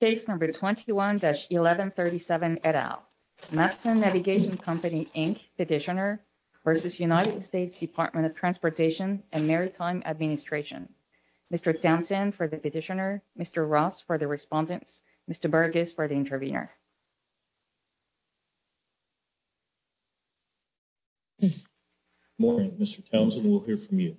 Page number 21-1137 et al. Matson Navigation Company Inc. Petitioner v. United States Department of Transportation and Maritime Administration. Mr. Sampson for the petitioner, Mr. Ross for the respondent, Mr. Burgess for the intervener. Good morning Mr. Council, we're here for you.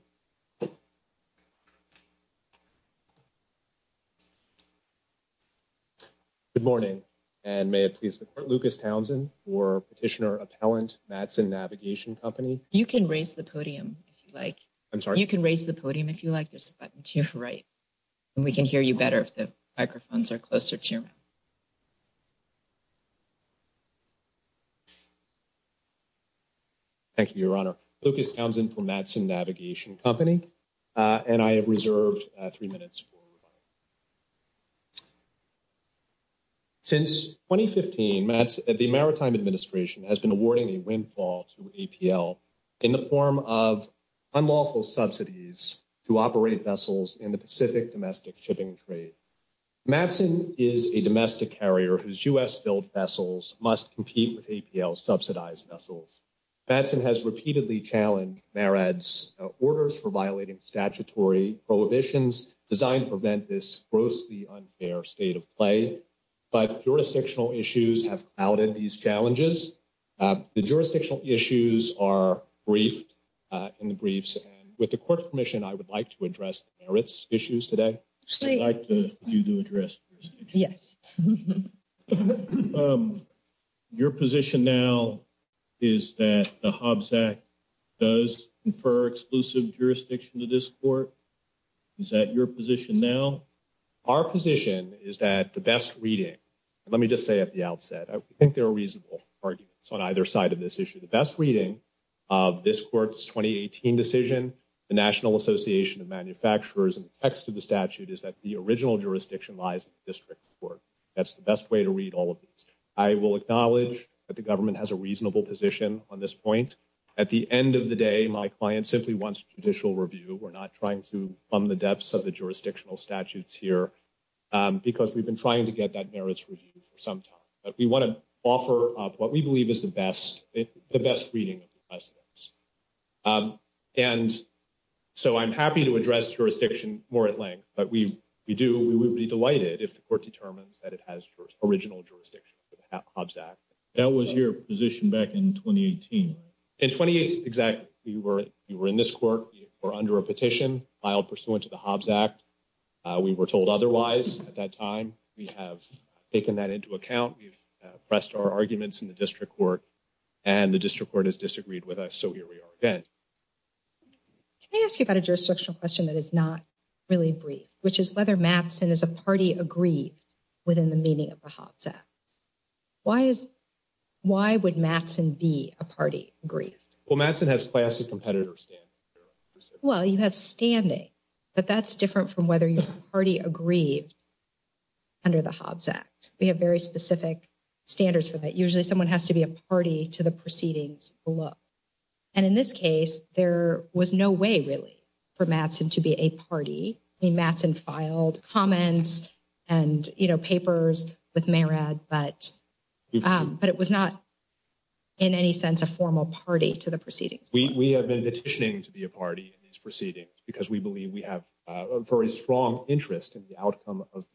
Good morning, and may I please report, Lucas Townsend for Petitioner Appellant, Matson Navigation Company. You can raise the podium if you like. I'm sorry? You can raise the podium if you like, just click the button to your right. And we can hear you better if the microphones are closer to you. Thank you, Your Honor. Lucas Townsend for Matson Navigation Company, and I have reserved three minutes for you. Since 2015, the Maritime Administration has been awarding a windfall to APL in the form of unlawful subsidies to operate vessels in the Pacific domestic shipping trade. Matson is a domestic carrier whose U.S.-billed vessels must compete with APL-subsidized vessels. Matson has repeatedly challenged MARAD's orders for violating statutory prohibitions designed to prevent this grossly unfair state of play. But jurisdictional issues have outed these challenges. The jurisdictional issues are briefed in the briefs, and with the Court's permission, I would like to address MARAD's issues today. Great. I'd like you to address your issues. Yes. Your position now is that the Hobbs Act does confer exclusive jurisdiction to this Court. Is that your position now? Our position is that the best reading, let me just say at the outset, I think there are reasonable arguments on either side of this issue. The best reading of this Court's 2018 decision, the National Association of Manufacturers, and the text of the statute is that the original jurisdiction lies in the District Court. That's the best way to read all of this. I will acknowledge that the government has a reasonable position on this point. At the end of the day, my client simply wants judicial review. We're not trying to plumb the depths of the jurisdictional statutes here because we've been trying to get that merits review for some time. But we want to offer what we believe is the best reading of the precedents. And so I'm happy to address jurisdiction more at length, but we would be delighted if the Court determines that it has original jurisdiction to the Hobbs Act. That was your position back in 2018. In 2018, exactly. We were in this Court. We were under a petition filed pursuant to the Hobbs Act. We were told otherwise at that time. We have taken that into account. We've pressed our arguments in the District Court, and the District Court has disagreed with us, so here we are again. Can I ask you about a jurisdictional question that is not really brief, which is whether Matson as a party agrees within the meaning of the Hobbs Act? Why would Matson be a party agree? Well, Matson has classic competitor standing. Well, you have standing, but that's different from whether your party agrees under the Hobbs Act. We have very specific standards for that. Usually someone has to be a party to the proceedings below. And in this case, there was no way, really, for Matson to be a party. Matson filed comments and papers with Mayrad, but it was not in any sense a formal party to the proceedings. We have been petitioning to be a party in these proceedings because we believe we have a very strong interest in the outcome of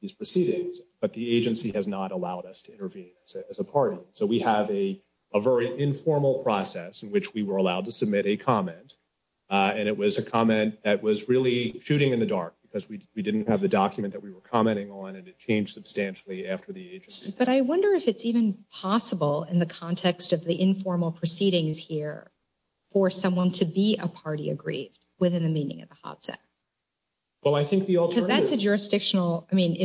these proceedings, but the agency has not allowed us to intervene as a party. So we have a very informal process in which we were allowed to submit a comment, and it was a comment that was really shooting in the dark because we didn't have the document that we were commenting on, and it changed substantially after the agency. But I wonder if it's even possible in the context of the informal proceedings here for someone to be a party agree within the meaning of the Hobbs Act. Well, I think the alternative— So that's a jurisdictional—I mean,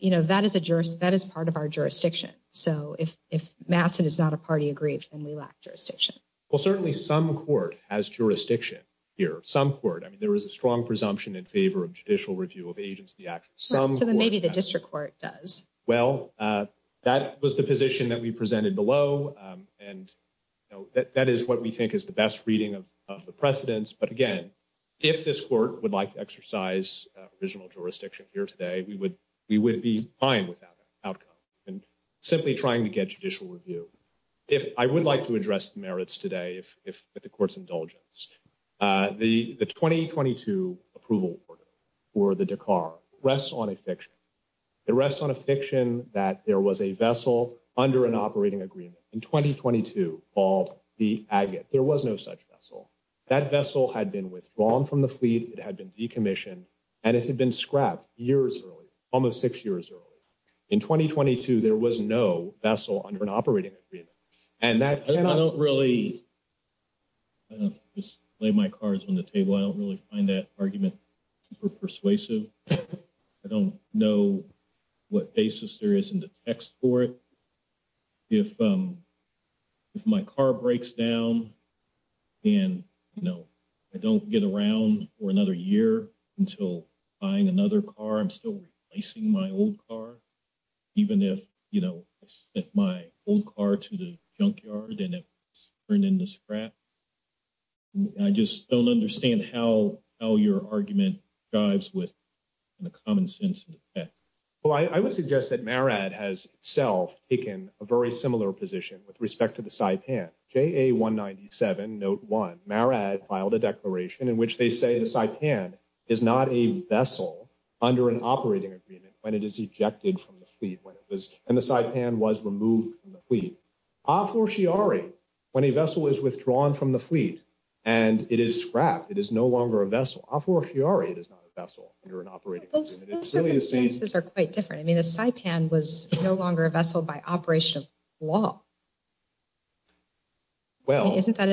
that is part of our jurisdiction. So if Matson is not a party agree, then we lack jurisdiction. Well, certainly some court has jurisdiction here, some court. I mean, there is a strong presumption in favor of judicial review of the Agency Act. So maybe the district court does. Well, that was the position that we presented below, and that is what we think is the best reading of the precedents. But again, if this court would like to exercise provisional jurisdiction here today, we would be fine with that outcome and simply trying to get judicial review. I would like to address merits today, if the court's indulgence. The 2022 approval order for the Dakar rests on a fiction. It rests on a fiction that there was a vessel under an operating agreement in 2022 called the Agate. There was no such vessel. That vessel had been withdrawn from the fleet. It had been decommissioned, and it had been scrapped years earlier, almost six years earlier. In 2022, there was no vessel under an operating agreement. I don't really – I don't just lay my cards on the table. I don't really find that argument super persuasive. I don't know what basis there is in the text for it. If my car breaks down and, you know, I don't get around for another year until buying another car, I'm still replacing my old car. Even if, you know, I sent my old car to the junkyard and it's turned into scrap, I just don't understand how your argument ties with the common sense of the text. Well, I would suggest that Marad has itself taken a very similar position with respect to the Saipan. JA 197, note one, Marad filed a declaration in which they say the Saipan is not a vessel under an operating agreement when it is ejected from the fleet, when it was – when the Saipan was removed from the fleet. Afur Shi'ari, when a vessel is withdrawn from the fleet and it is scrapped, it is no longer a vessel. Afur Shi'ari is not a vessel under an operating agreement. Those two cases are quite different. I mean, the Saipan was no longer a vessel by operational law. Well – Isn't that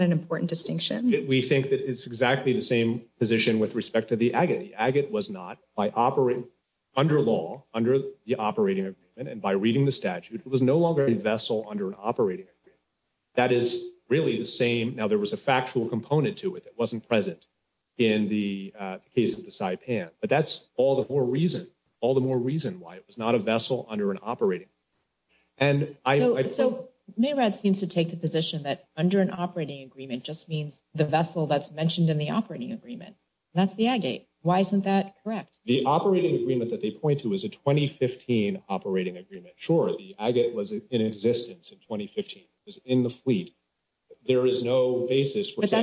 an important distinction? We think that it's exactly the same position with respect to the Agate. The Agate was not, by operating – under law, under the operating agreement and by reading the statute, it was no longer a vessel under an operating agreement. That is really the same – now, there was a factual component to it that wasn't present in the case of the Saipan. But that's all the more reason – all the more reason why it was not a vessel under an operating – and I – So, Marad seems to take the position that under an operating agreement just means the vessel that's mentioned in the operating agreement. That's the Agate. Why isn't that correct? The operating agreement that they point to is a 2015 operating agreement. Sure, the Agate was in existence in 2015. It was in the fleet. There is no basis for saying – They're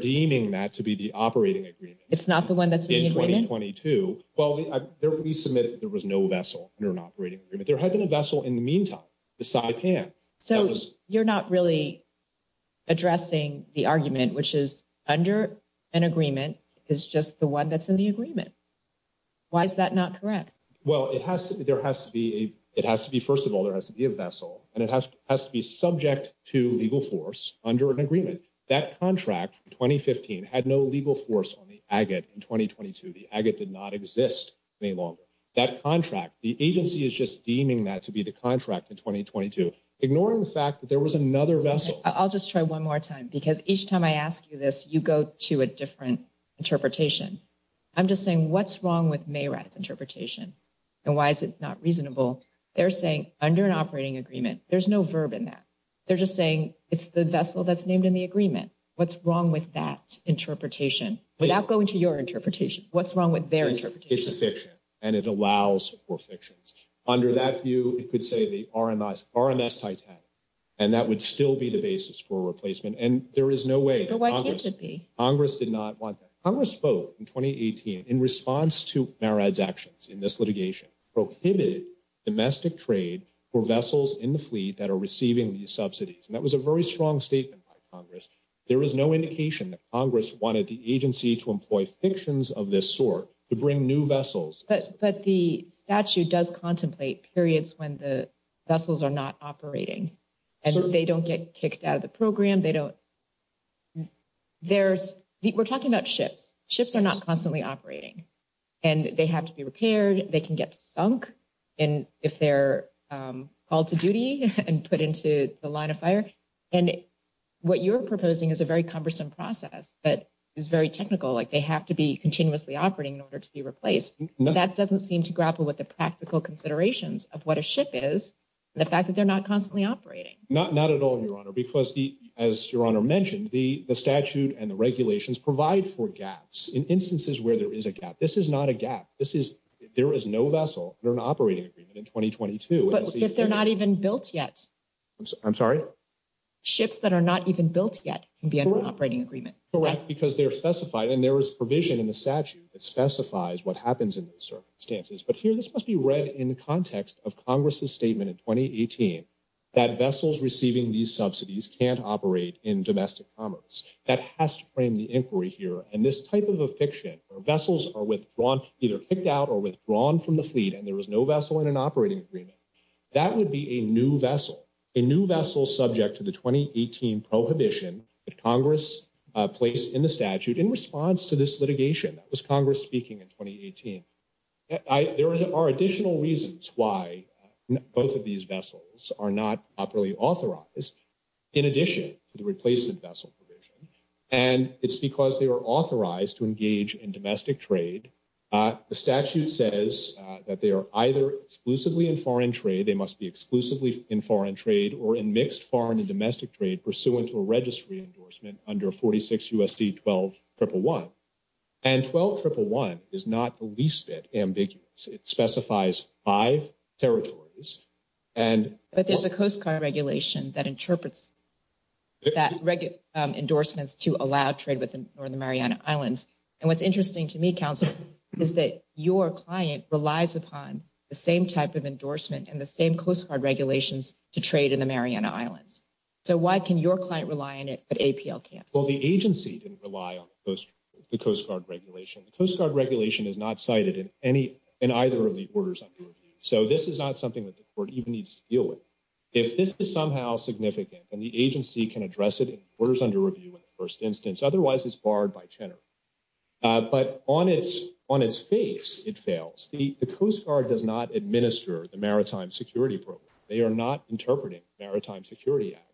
deeming that to be the operating agreement. It's not the one that's in the agreement? In 2022. Well, they're – we submit that there was no vessel under an operating agreement. There has been a vessel in the meantime, the Saipan. So, you're not really addressing the argument which is under an agreement is just the one that's in the agreement. Why is that not correct? Well, it has to be – there has to be – it has to be – first of all, there has to be a vessel. And it has to be subject to legal force under an agreement. That contract, 2015, had no legal force on the Agate in 2022. The Agate did not exist any longer. That contract – the agency is just deeming that to be the contract in 2022, ignoring the fact that there was another vessel. I'll just try one more time because each time I ask you this, you go to a different interpretation. I'm just saying what's wrong with Maywright's interpretation? And why is it not reasonable? They're saying under an operating agreement, there's no verb in that. They're just saying it's the vessel that's named in the agreement. What's wrong with that interpretation? But I'll go into your interpretation. What's wrong with their interpretation? It's a fiction. And it allows for fictions. Under that view, it could say the RMS – RMS Titanic. And that would still be the basis for replacement. And there is no way – So, why can't it be? Congress did not want that. Congress spoke in 2018 in response to Maywright's actions in this litigation, prohibited domestic trade for vessels in the fleet that are receiving these subsidies. And that was a very strong statement by Congress. There is no indication that Congress wanted the agency to employ fictions of this sort to bring new vessels. But the statute does contemplate periods when the vessels are not operating. And they don't get kicked out of the program. We're talking about ships. Ships are not constantly operating. And they have to be repaired. They can get sunk if they're called to duty and put into the line of fire. And what you're proposing is a very cumbersome process that is very technical. Like, they have to be continuously operating in order to be replaced. That doesn't seem to grapple with the practical considerations of what a ship is and the fact that they're not constantly operating. Not at all, Your Honor. Because, as Your Honor mentioned, the statute and the regulations provide for gaps in instances where there is a gap. This is not a gap. There is no vessel. They're an operating agreement in 2022. But if they're not even built yet. I'm sorry? Ships that are not even built yet can be an operating agreement. Correct. Because they're specified. And there is provision in the statute that specifies what happens in those circumstances. But here, this must be read in the context of Congress's statement in 2018 that vessels receiving these subsidies can't operate in domestic commerce. That has to frame the inquiry here. And this type of a fiction where vessels are withdrawn, either kicked out or withdrawn from the fleet and there is no vessel in an operating agreement, that would be a new vessel. A new vessel subject to the 2018 prohibition that Congress placed in the statute in response to this litigation. That was Congress speaking in 2018. There are additional reasons why both of these vessels are not properly authorized in addition to the replacement vessel provision. And it's because they are authorized to engage in domestic trade. The statute says that they are either exclusively in foreign trade, they must be exclusively in foreign trade, or in mixed foreign and domestic trade pursuant to a registry endorsement under 46 U.S.C. 12-111. And 12-111 is not the least bit ambiguous. It specifies five territories. But there's a Coast Guard regulation that interprets that endorsement to allow trade within the Mariana Islands. And what's interesting to me, Counselor, is that your client relies upon the same type of endorsement and the same Coast Guard regulations to trade in the Mariana Islands. So why can your client rely on it but APL can't? Well, the agency can rely on the Coast Guard regulation. The Coast Guard regulation is not cited in either of the orders under review. So this is not something that the court even needs to deal with. If this is somehow significant, then the agency can address it in the orders under review in the first instance. Otherwise, it's barred by tenor. But on its face, it fails. The Coast Guard does not administer the Maritime Security Program. They are not interpreting the Maritime Security Act.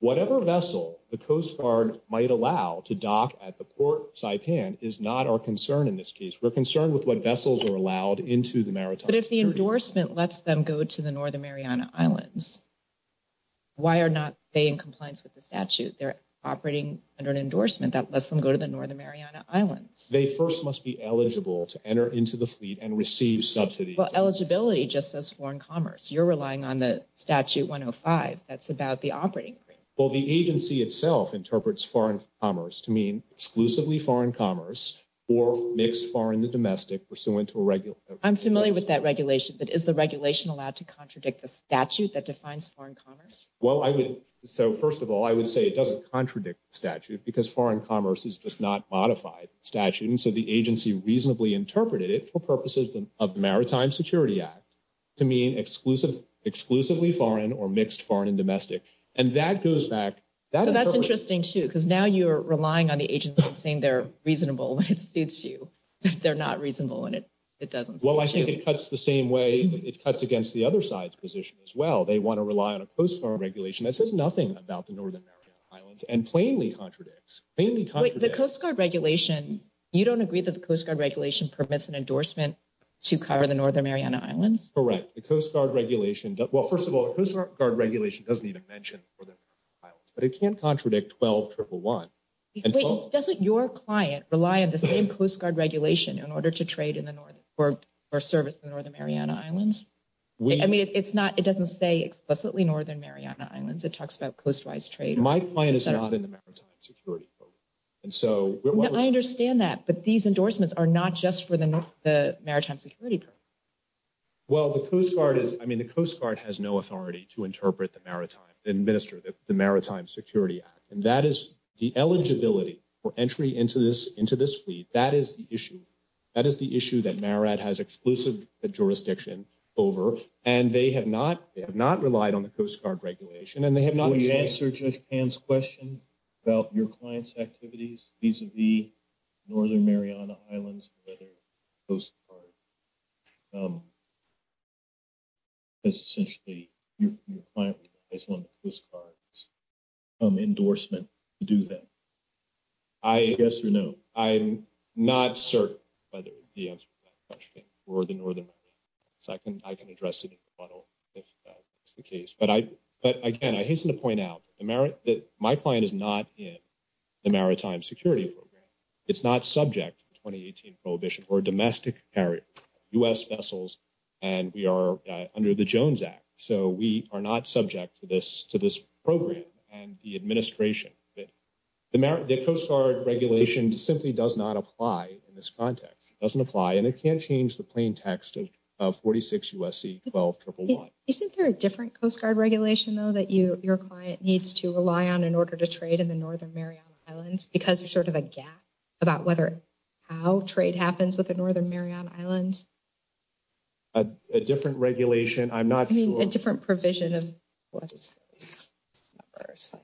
Whatever vessel the Coast Guard might allow to dock at the port Saipan is not our concern in this case. We're concerned with what vessels are allowed into the Maritime Security Program. But if the endorsement lets them go to the Northern Mariana Islands, why are not they in compliance with the statute? They're operating under an endorsement that lets them go to the Northern Mariana Islands. They first must be eligible to enter into the fleet and receive subsidies. Well, eligibility just says foreign commerce. You're relying on the Statute 105. That's about the operating agreement. Well, the agency itself interprets foreign commerce to mean exclusively foreign commerce or mixed foreign to domestic pursuant to a regulation. I'm familiar with that regulation. But is the regulation allowed to contradict the statute that defines foreign commerce? Well, so first of all, I would say it doesn't contradict the statute because foreign commerce does not modify the statute. And so the agency reasonably interpreted it for purposes of Maritime Security Act to mean exclusively foreign or mixed foreign and domestic. And that goes back. That's interesting, too, because now you're relying on the agency saying they're reasonable. It suits you. They're not reasonable, and it doesn't. Well, I think it cuts the same way. It cuts against the other side's position as well. They want to rely on a Coast Guard regulation that says nothing about the Northern Mariana Islands and plainly contradicts, plainly contradicts. Wait, the Coast Guard regulation, you don't agree that the Coast Guard regulation permits an endorsement to cover the Northern Mariana Islands? Correct. The Coast Guard regulation, well, first of all, the Coast Guard regulation doesn't even mention the Northern Mariana Islands. But it can't contradict 12-1-1. Wait, doesn't your client rely on the same Coast Guard regulation in order to trade for service in the Northern Mariana Islands? I mean, it doesn't say explicitly Northern Mariana Islands. It talks about coast-wise trade. My client is not in the Maritime Security Program. I understand that, but these endorsements are not just for the Maritime Security Program. Well, the Coast Guard is – I mean, the Coast Guard has no authority to interpret the maritime – administer the Maritime Security Act. And that is – the eligibility for entry into this fleet, that is the issue. That is the issue that MARAD has exclusive jurisdiction over. And they have not relied on the Coast Guard regulation, and they have not – The answer to Pam's question about your client's activities vis-à-vis Northern Mariana Islands and other Coast Guards is essentially your client has no Coast Guard endorsement to do that. I – yes or no? I'm not certain whether the answer to that question is for the Northern Mariana Islands. I can address it in the funnel if that's the case. But, again, I hate to point out that my client is not in the Maritime Security Program. It's not subject to the 2018 prohibition. We're a domestic carrier, U.S. vessels, and we are under the Jones Act. So we are not subject to this program and the administration. The Coast Guard regulation simply does not apply in this context. It doesn't apply, and it can't change the plain text of 46 U.S.C. 12-1-1. Isn't there a different Coast Guard regulation, though, that your client needs to rely on in order to trade in the Northern Mariana Islands because there's sort of a gap about whether or how trade happens with the Northern Mariana Islands? A different regulation? I'm not sure. I mean, a different provision of what it's like.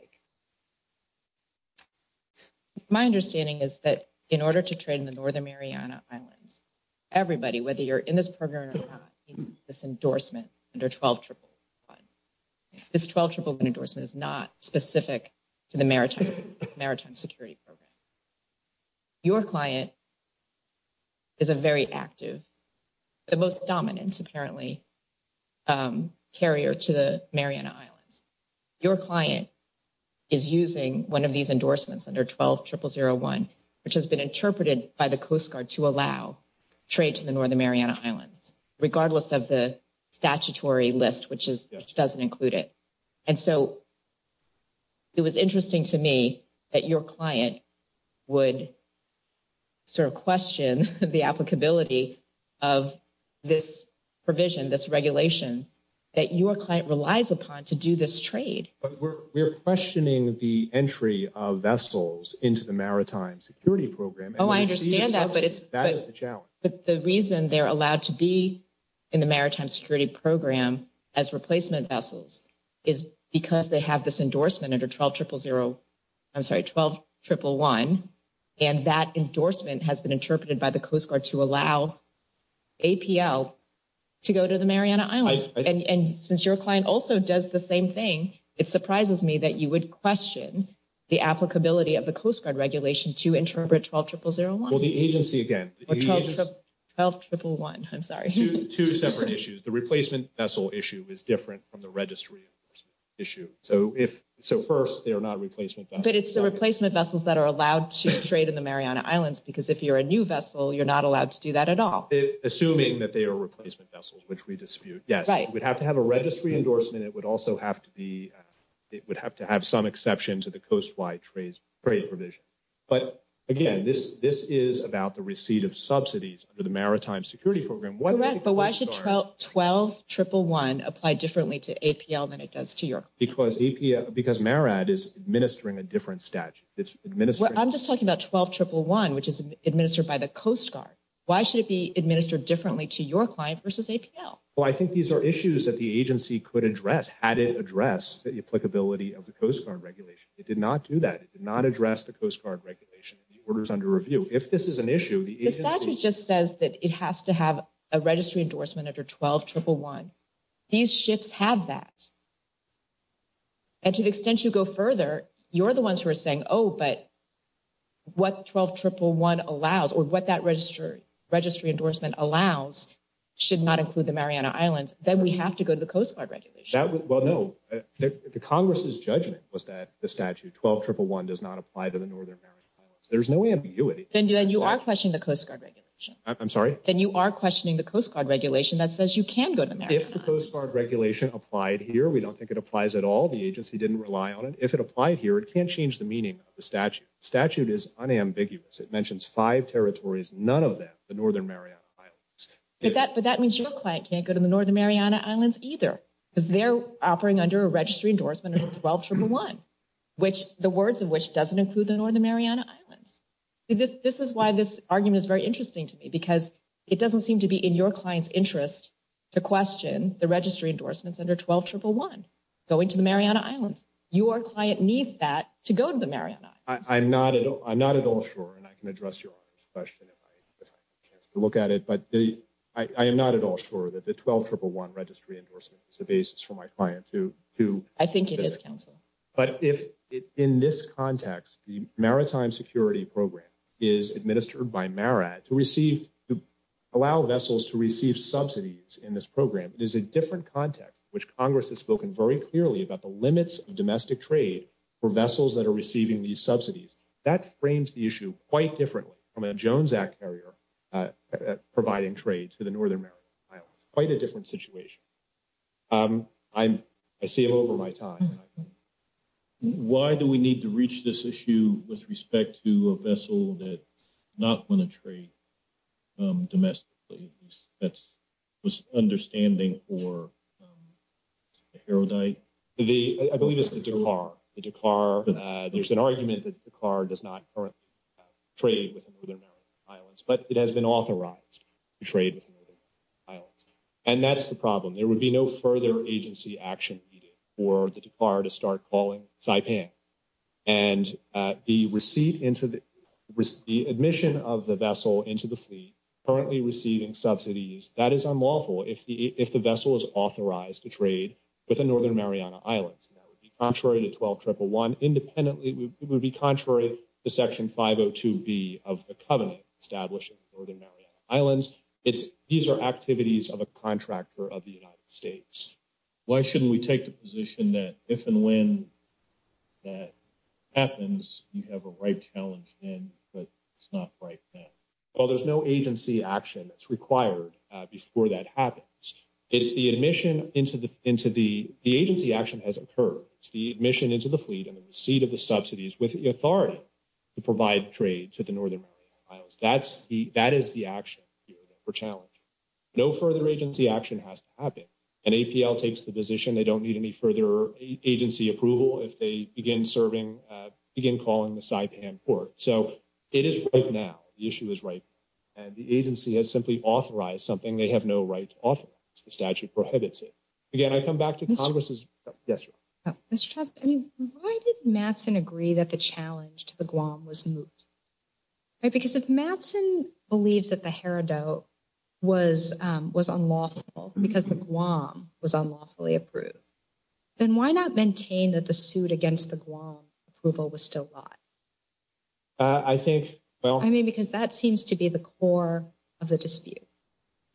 My understanding is that in order to trade in the Northern Mariana Islands, everybody, whether you're in this program or not, needs this endorsement under 12-1-1. This 12-1-1 endorsement is not specific to the Maritime Security Program. Your client is a very active, the most dominant, apparently, carrier to the Mariana Islands. Your client is using one of these endorsements under 12-1-0-0-1, which has been interpreted by the Coast Guard to allow trade to the Northern Mariana Islands, regardless of the statutory list, which doesn't include it. And so it was interesting to me that your client would sort of question the applicability of this provision, this regulation, that your client relies upon to do this trade. But we're questioning the entry of vessels into the Maritime Security Program. Oh, I understand that. That is the challenge. But the reason they're allowed to be in the Maritime Security Program as replacement vessels is because they have this endorsement under 12-1-0-0, I'm sorry, 12-1-1-1. And that endorsement has been interpreted by the Coast Guard to allow APL to go to the Mariana Islands. And since your client also does the same thing, it surprises me that you would question the applicability of the Coast Guard regulation to interpret 12-1-0-0-1. Well, the agency, again. Or 12-1-1-1, I'm sorry. Two separate issues. The replacement vessel issue is different from the registry issue. So first, they are not replacement vessels. But it's the replacement vessels that are allowed to trade in the Mariana Islands, because if you're a new vessel, you're not allowed to do that at all. Assuming that they are replacement vessels, which we dispute, yes. Right. It would have to have a registry endorsement. It would also have to be, it would have to have some exceptions to the Coastwide Trade Provision. But, again, this is about the receipt of subsidies for the Maritime Security Program. Correct. But why should 12-1-1-1 apply differently to APL than it does to yours? Because Mariana is administering a different statute. I'm just talking about 12-1-1-1, which is administered by the Coast Guard. Why should it be administered differently to your client versus APL? Well, I think these are issues that the agency could address had it addressed the applicability of the Coast Guard regulation. It did not do that. It did not address the Coast Guard regulation. The order is under review. If this is an issue, the agency— The statute just says that it has to have a registry endorsement under 12-1-1-1. These ships have that. And to the extent you go further, you're the ones who are saying, oh, but what 12-1-1-1 allows or what that registry endorsement allows should not include the Mariana Islands. Then we have to go to the Coast Guard regulation. Well, no. The Congress's judgment was that the statute 12-1-1-1 does not apply to the Northern Mariana Islands. There's no ambiguity. Then you are questioning the Coast Guard regulation. I'm sorry? Then you are questioning the Coast Guard regulation that says you can go to the Mariana Islands. If the Coast Guard regulation applied here, we don't think it applies at all. The agency didn't rely on it. If it applied here, it can't change the meaning of the statute. The statute is unambiguous. It mentions five territories, none of them the Northern Mariana Islands. But that means your client can't go to the Northern Mariana Islands either. They're operating under a registry endorsement of 12-1-1-1, the words of which doesn't include the Northern Mariana Islands. This is why this argument is very interesting to me because it doesn't seem to be in your client's interest to question the registry endorsements under 12-1-1-1, going to the Mariana Islands. Your client needs that to go to the Mariana Islands. I'm not at all sure, and I can address your question if I have a chance to look at it. But I am not at all sure that the 12-1-1-1 registry endorsement is the basis for my client to visit. I think it is, counsel. But in this context, the Maritime Security Program is administered by Marat to allow vessels to receive subsidies in this program. It is a different context in which Congress has spoken very clearly about the limits of domestic trade for vessels that are receiving these subsidies. That frames the issue quite differently from a Jones Act barrier providing trade to the Northern Mariana Islands, quite a different situation. I'm – I see I'm over my time. Why do we need to reach this issue with respect to a vessel that's not going to trade domestically? That's an understanding for a heraldite. I believe it's the Dakar. The Dakar – there's an argument that the Dakar does not currently trade with the Northern Mariana Islands, but it has been authorized to trade with the Northern Mariana Islands. And that's the problem. There would be no further agency action needed for the Dakar to start calling Saipan. And the admission of the vessel into the fleet currently receiving subsidies, that is unlawful if the vessel is authorized to trade with the Northern Mariana Islands. That would be contrary to 12-1-1-1. Independently, it would be contrary to Section 502B of the covenant established in the Northern Mariana Islands. These are activities of a contractor of the United States. Why shouldn't we take the position that if and when that happens, you have a right to challenge them, but it's not right then? Well, there's no agency action that's required before that happens. It's the admission into the – the agency action has occurred. It's the admission into the fleet and the receipt of the subsidies with the authority to provide trade to the Northern Mariana Islands. That is the action here for challenge. No further agency action has to happen. And APL takes the position they don't need any further agency approval if they begin serving – begin calling the Saipan port. So it is right now. The issue is right now. And the agency has simply authorized something they have no right to authorize. The statute prohibits it. Again, I come back to Congress's – yes, ma'am. Why did Matson agree that the challenge to the Guam was moot? Because if Matson believes that the Heredote was unlawful because the Guam was unlawfully approved, then why not maintain that the suit against the Guam approval was still live? I think – well – I mean, because that seems to be the core of the dispute.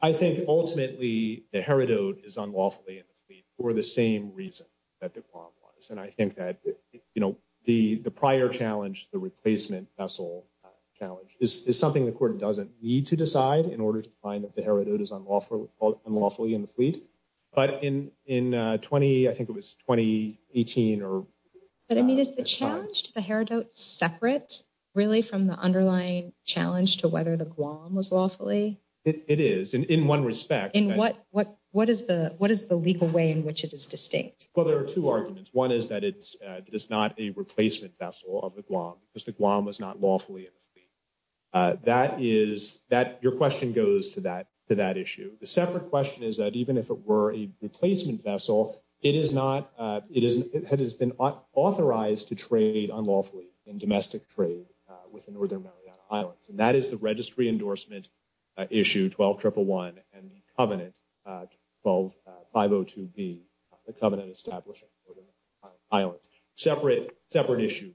I think ultimately the Heredote is unlawfully in the fleet for the same reason that the Guam was. And I think that, you know, the prior challenge, the replacement vessel challenge, is something the court doesn't need to decide in order to find that the Heredote is unlawfully in the fleet. But in 20 – I think it was 2018 or – But, I mean, is the challenge to the Heredote separate really from the underlying challenge to whether the Guam was lawfully? It is in one respect. In what is the legal way in which it is distinct? Well, there are two arguments. One is that it is not a replacement vessel of the Guam because the Guam was not lawfully in the fleet. That is – your question goes to that issue. The separate question is that even if it were a replacement vessel, it is not – it has been authorized to trade unlawfully in domestic trade within Northern Mariana Islands. And that is the Registry Endorsement Issue 12-111 and the Covenant 12-502B, the Covenant Establishment in Northern Mariana Islands. Separate issue.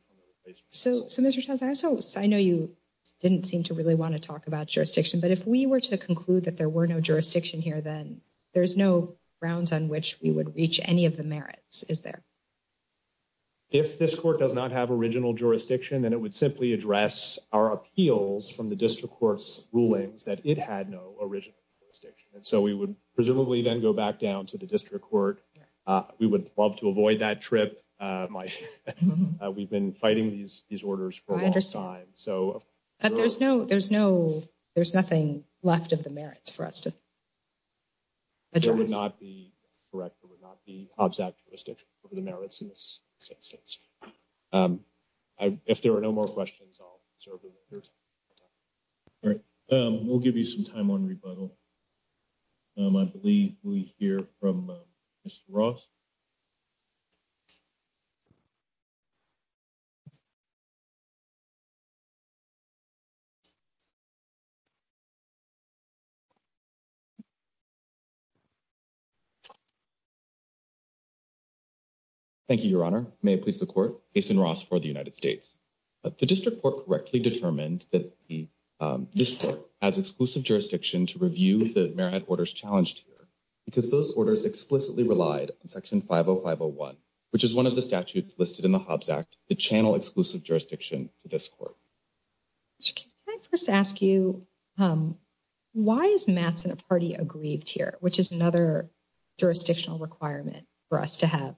So, Mr. Santana, I know you didn't seem to really want to talk about jurisdiction, but if we were to conclude that there were no jurisdiction here, then there's no grounds on which we would reach any of the merits, is there? If this court does not have original jurisdiction, then it would simply address our appeals from the district court's rulings that it had no original jurisdiction. And so we would presumably then go back down to the district court. We would love to avoid that trip. We've been fighting these orders for a long time. I understand. But there's no – there's nothing left of the merits for us to – That would not be correct. It would not be observant of the merits in this instance. If there are no more questions, I'll serve the hearing. All right. We'll give you some time on rebuttal. I believe we hear from Mr. Ross. Thank you, Your Honor. May it please the court. Jason Ross for the United States. The district court correctly determined that the district has exclusive jurisdiction to review the merit orders challenged here because those orders explicitly relied on Section 50501, which is one of the statutes listed in the Hobbs Act to channel exclusive jurisdiction to this court. Can I just ask you why is Mattson a party aggrieved here, which is another jurisdictional requirement for us to have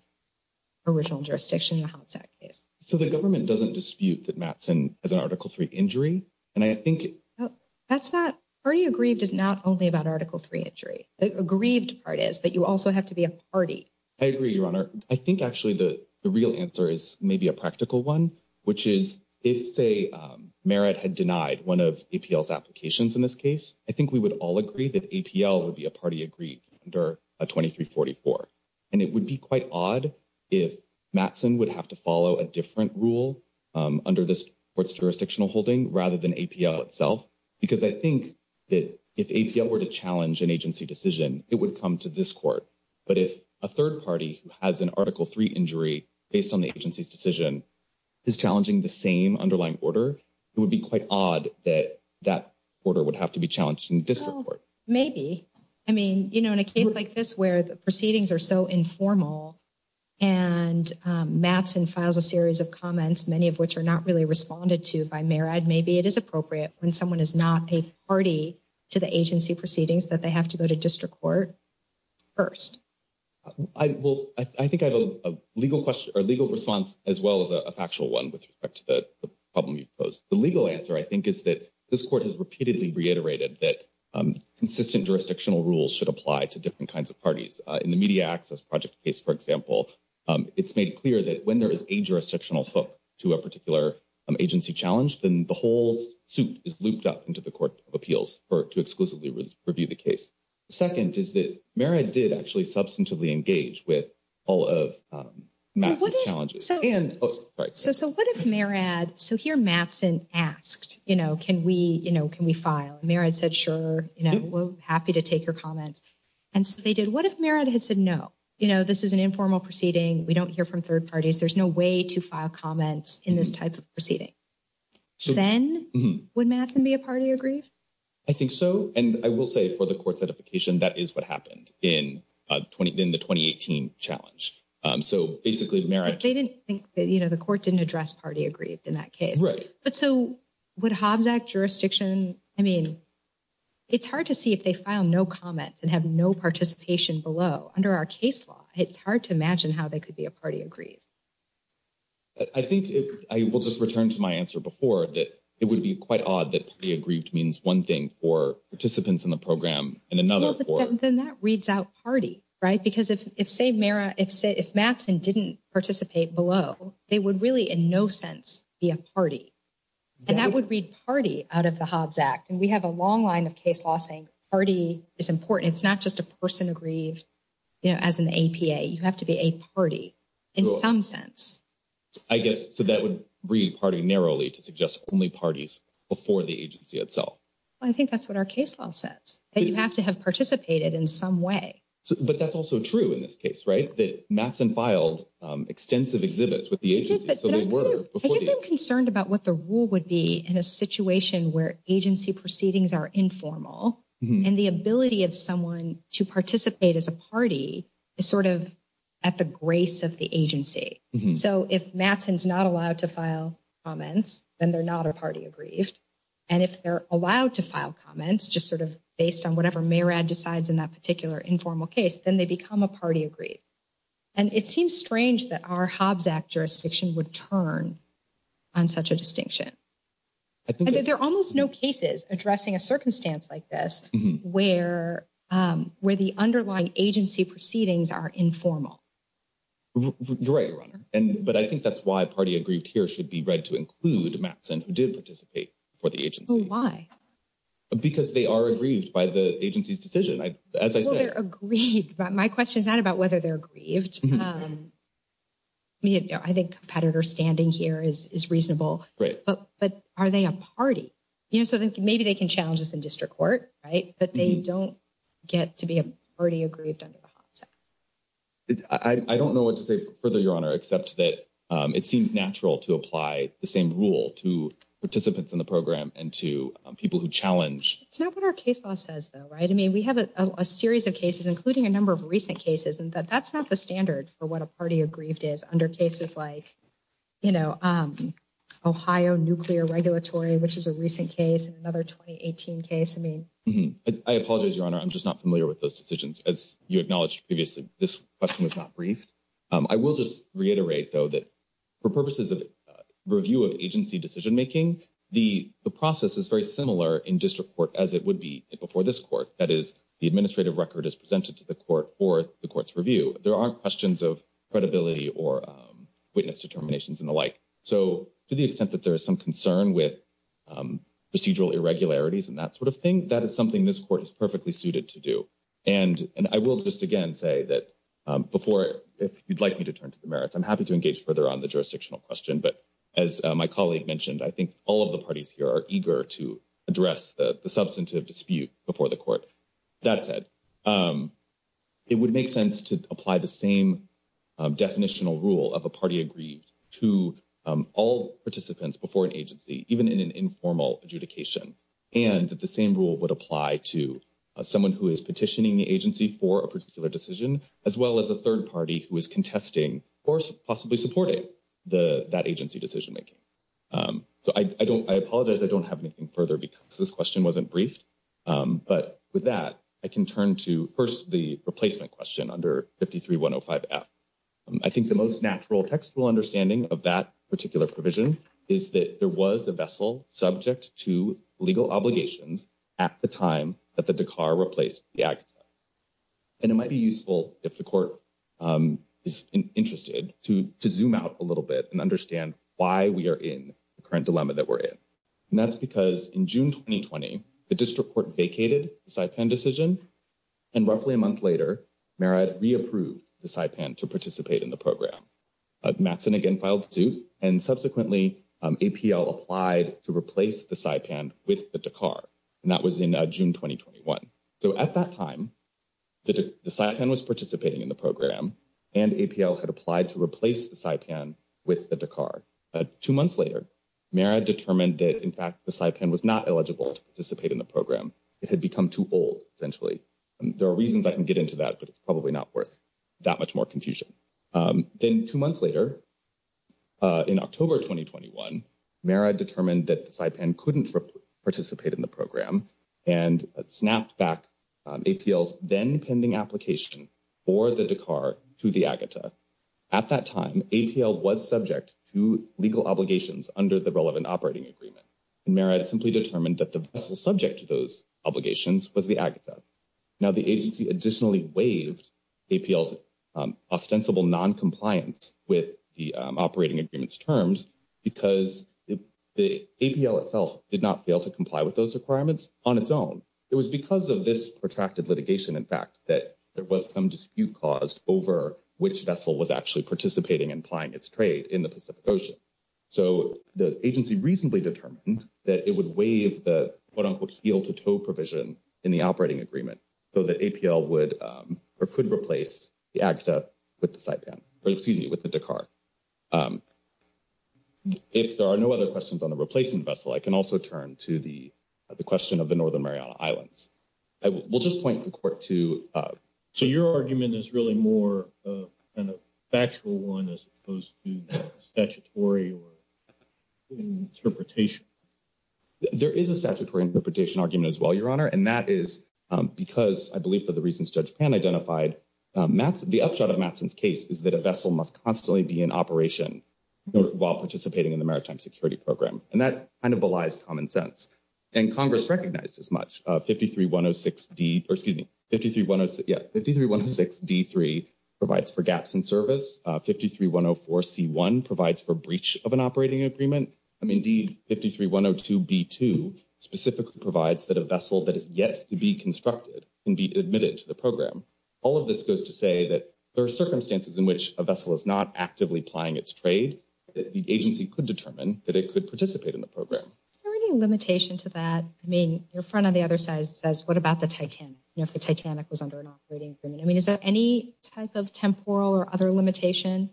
original jurisdiction in the Hobbs Act case? So the government doesn't dispute that Mattson has an Article III injury. And I think – That's not – party aggrieved is not only about Article III injury. The aggrieved part is that you also have to be a party. I agree, Your Honor. I think actually the real answer is maybe a practical one, which is if, say, merit had denied one of APL's applications in this case, I think we would all agree that APL would be a party aggrieved under 2344. And it would be quite odd if Mattson would have to follow a different rule under this court's jurisdictional holding rather than APL itself because I think that if APL were to challenge an agency decision, it would come to this court. But if a third party has an Article III injury based on the agency's decision is challenging the same underlying order, it would be quite odd that that order would have to be challenged in the district court. Maybe. I mean, you know, in a case like this where the proceedings are so informal and Mattson files a series of comments, many of which are not really responded to by merit, maybe it is appropriate when someone is not a party to the agency proceedings that they have to go to district court first. I think I have a legal response as well as a factual one with respect to the problem you posed. The legal answer, I think, is that this court has repeatedly reiterated that consistent jurisdictional rules should apply to different kinds of parties. In the Media Access Project case, for example, it's made clear that when there is a jurisdictional hook to a particular agency challenge, then the whole suit is looped up into the Court of Appeals to exclusively review the case. The second is that Merid did actually substantively engage with all of Mattson's challenges. So what if Merid, so here Mattson asked, you know, can we, you know, can we file? Merid said, sure, you know, we're happy to take your comments. And so they did. What if Merid had said no? You know, this is an informal proceeding. We don't hear from third parties. There's no way to file comments in this type of proceeding. Then would Mattson be a party agrees? I think so. And I will say for the court certification, that is what happened in the 2018 challenge. So basically Merid. But they didn't think that, you know, the court didn't address party agrees in that case. Right. But so would Hobbs Act jurisdiction, I mean, it's hard to see if they file no comments and have no participation below. Under our case law, it's hard to imagine how they could be a party agrees. I think I will just return to my answer before that it would be quite odd that to be aggrieved means one thing for participants in the program and another for. Then that reads out party, right? Because if say Merid, if Mattson didn't participate below, they would really in no sense be a party. And that would read party out of the Hobbs Act. And we have a long line of case law saying party is important. It's not just a person agrees, you know, as an APA. You have to be a party. In some sense. I guess. So that would read party narrowly to suggest only parties before the agency itself. I think that's what our case law says. That you have to have participated in some way. But that's also true in this case, right? That Mattson filed extensive exhibits with the agency. I think they're concerned about what the rule would be in a situation where agency proceedings are informal. And the ability of someone to participate as a party is sort of at the grace of the agency. So if Mattson's not allowed to file comments, then they're not a party aggrieved. And if they're allowed to file comments, just sort of based on whatever Merid decides in that particular informal case, then they become a party aggrieved. And it seems strange that our Hobbs Act jurisdiction would turn on such a distinction. There are almost no cases addressing a circumstance like this where the underlying agency proceedings are informal. You're right, Ronna. But I think that's why party aggrieved here should be read to include Mattson who did participate for the agency. Oh, why? Because they are aggrieved by the agency's decision. As I said. Well, they're aggrieved. My question's not about whether they're aggrieved. I think competitor standing here is reasonable. But are they a party? So maybe they can challenge this in district court, right? But they don't get to be party aggrieved under the Hobbs Act. I don't know what to say further, Your Honor, except that it seems natural to apply the same rule to participants in the program and to people who challenge. It's not what our case law says, though, right? I mean, we have a series of cases, including a number of recent cases. And that's not the standard for what a party aggrieved is under cases like, you know, Ohio Nuclear Regulatory, which is a recent case, another 2018 case. I mean. I apologize, Your Honor. I'm just not familiar with those decisions. As you acknowledged previously, this question is not brief. I will just reiterate, though, that for purposes of review of agency decision-making, the process is very similar in district court as it would be before this court. That is, the administrative record is presented to the court for the court's review. There aren't questions of credibility or witness determinations and the like. So to the extent that there is some concern with procedural irregularities and that sort of thing, that is something this court is perfectly suited to do. And I will just again say that before, if you'd like me to turn to the merits, I'm happy to engage further on the jurisdictional question. But as my colleague mentioned, I think all of the parties here are eager to address the substantive dispute before the court. That said, it would make sense to apply the same definitional rule of a party aggrieved to all participants before an agency, even in an informal adjudication. And that the same rule would apply to someone who is petitioning the agency for a particular decision, as well as a third party who is contesting or possibly supporting that agency decision-making. So I apologize I don't have anything further because this question wasn't brief. But with that, I can turn to first the replacement question under 53-105-F. I think the most natural textual understanding of that particular provision is that there was a vessel subject to legal obligations at the time that the Dakar replaced the Agda. And it might be useful if the court is interested to zoom out a little bit and understand why we are in the current dilemma that we're in. And that's because in June 2020, the district court vacated the Saipan decision. And roughly a month later, Mara re-approved the Saipan to participate in the program. Matson again filed suit. And subsequently, APL applied to replace the Saipan with the Dakar. And that was in June 2021. So at that time, the Saipan was participating in the program. And APL had applied to replace the Saipan with the Dakar. Two months later, Mara determined that, in fact, the Saipan was not eligible to participate in the program. It had become too old, essentially. There are reasons I can get into that, but it's probably not worth that much more confusion. Then two months later, in October 2021, Mara determined that the Saipan couldn't participate in the program and snapped back APL's then-pending application for the Dakar to the Agda. At that time, APL was subject to legal obligations under the relevant operating agreement. And Mara had simply determined that the vessel subject to those obligations was the Agda. Now, the agency additionally waived APL's ostensible noncompliance with the operating agreement's terms because the APL itself did not fail to comply with those requirements on its own. It was because of this protracted litigation, in fact, that there was some dispute caused over which vessel was actually participating and applying its trade in the Pacific Ocean. So the agency reasonably determined that it would waive the what I'll call the heel-to-toe provision in the operating agreement so that APL could replace the Agda with the Dakar. If there are no other questions on the replacement vessel, I can also turn to the question of the Northern Mariana Islands. We'll just point the court to... So your argument is really more of a factual one as opposed to statutory interpretation? There is a statutory interpretation argument as well, Your Honor, and that is because I believe for the reasons Judge Pan identified, the upshot of Matson's case is that a vessel must constantly be in operation while participating in the maritime security program. And that kind of belies common sense. And Congress recognized as much. 53-106-D3 provides for gaps in service. 53-104-C1 provides for breach of an operating agreement. And indeed, 53-102-B2 specifically provides that a vessel that is yet to be constructed can be admitted to the program. All of this goes to say that there are circumstances in which a vessel is not actively applying its trade that the agency could determine that it could participate in the program. Is there any limitation to that? I mean, your front on the other side says, what about the Titanic? You know, if the Titanic was under an operating agreement. I mean, is there any type of temporal or other limitation?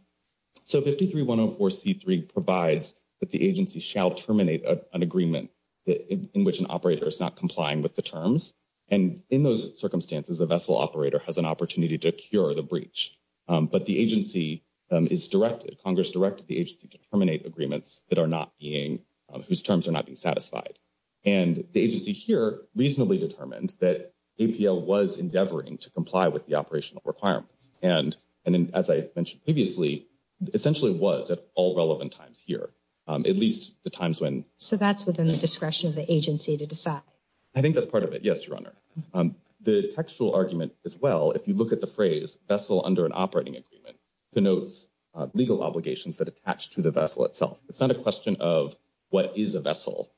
So 53-104-C3 provides that the agency shall terminate an agreement in which an operator is not complying with the terms. And in those circumstances, a vessel operator has an opportunity to cure the breach. But the agency is directed, Congress directed the agency to terminate agreements that are not being, whose terms are not being satisfied. And the agency here reasonably determined that APL was endeavoring to comply with the operational requirements. And as I mentioned previously, essentially was at all relevant times here. At least the times when. So that's within the discretion of the agency to decide. I think that's part of it. Yes, Your Honor. The textual argument as well, if you look at the phrase vessel under an operating agreement, denotes legal obligations that attach to the vessel itself. It's not a question of what is a vessel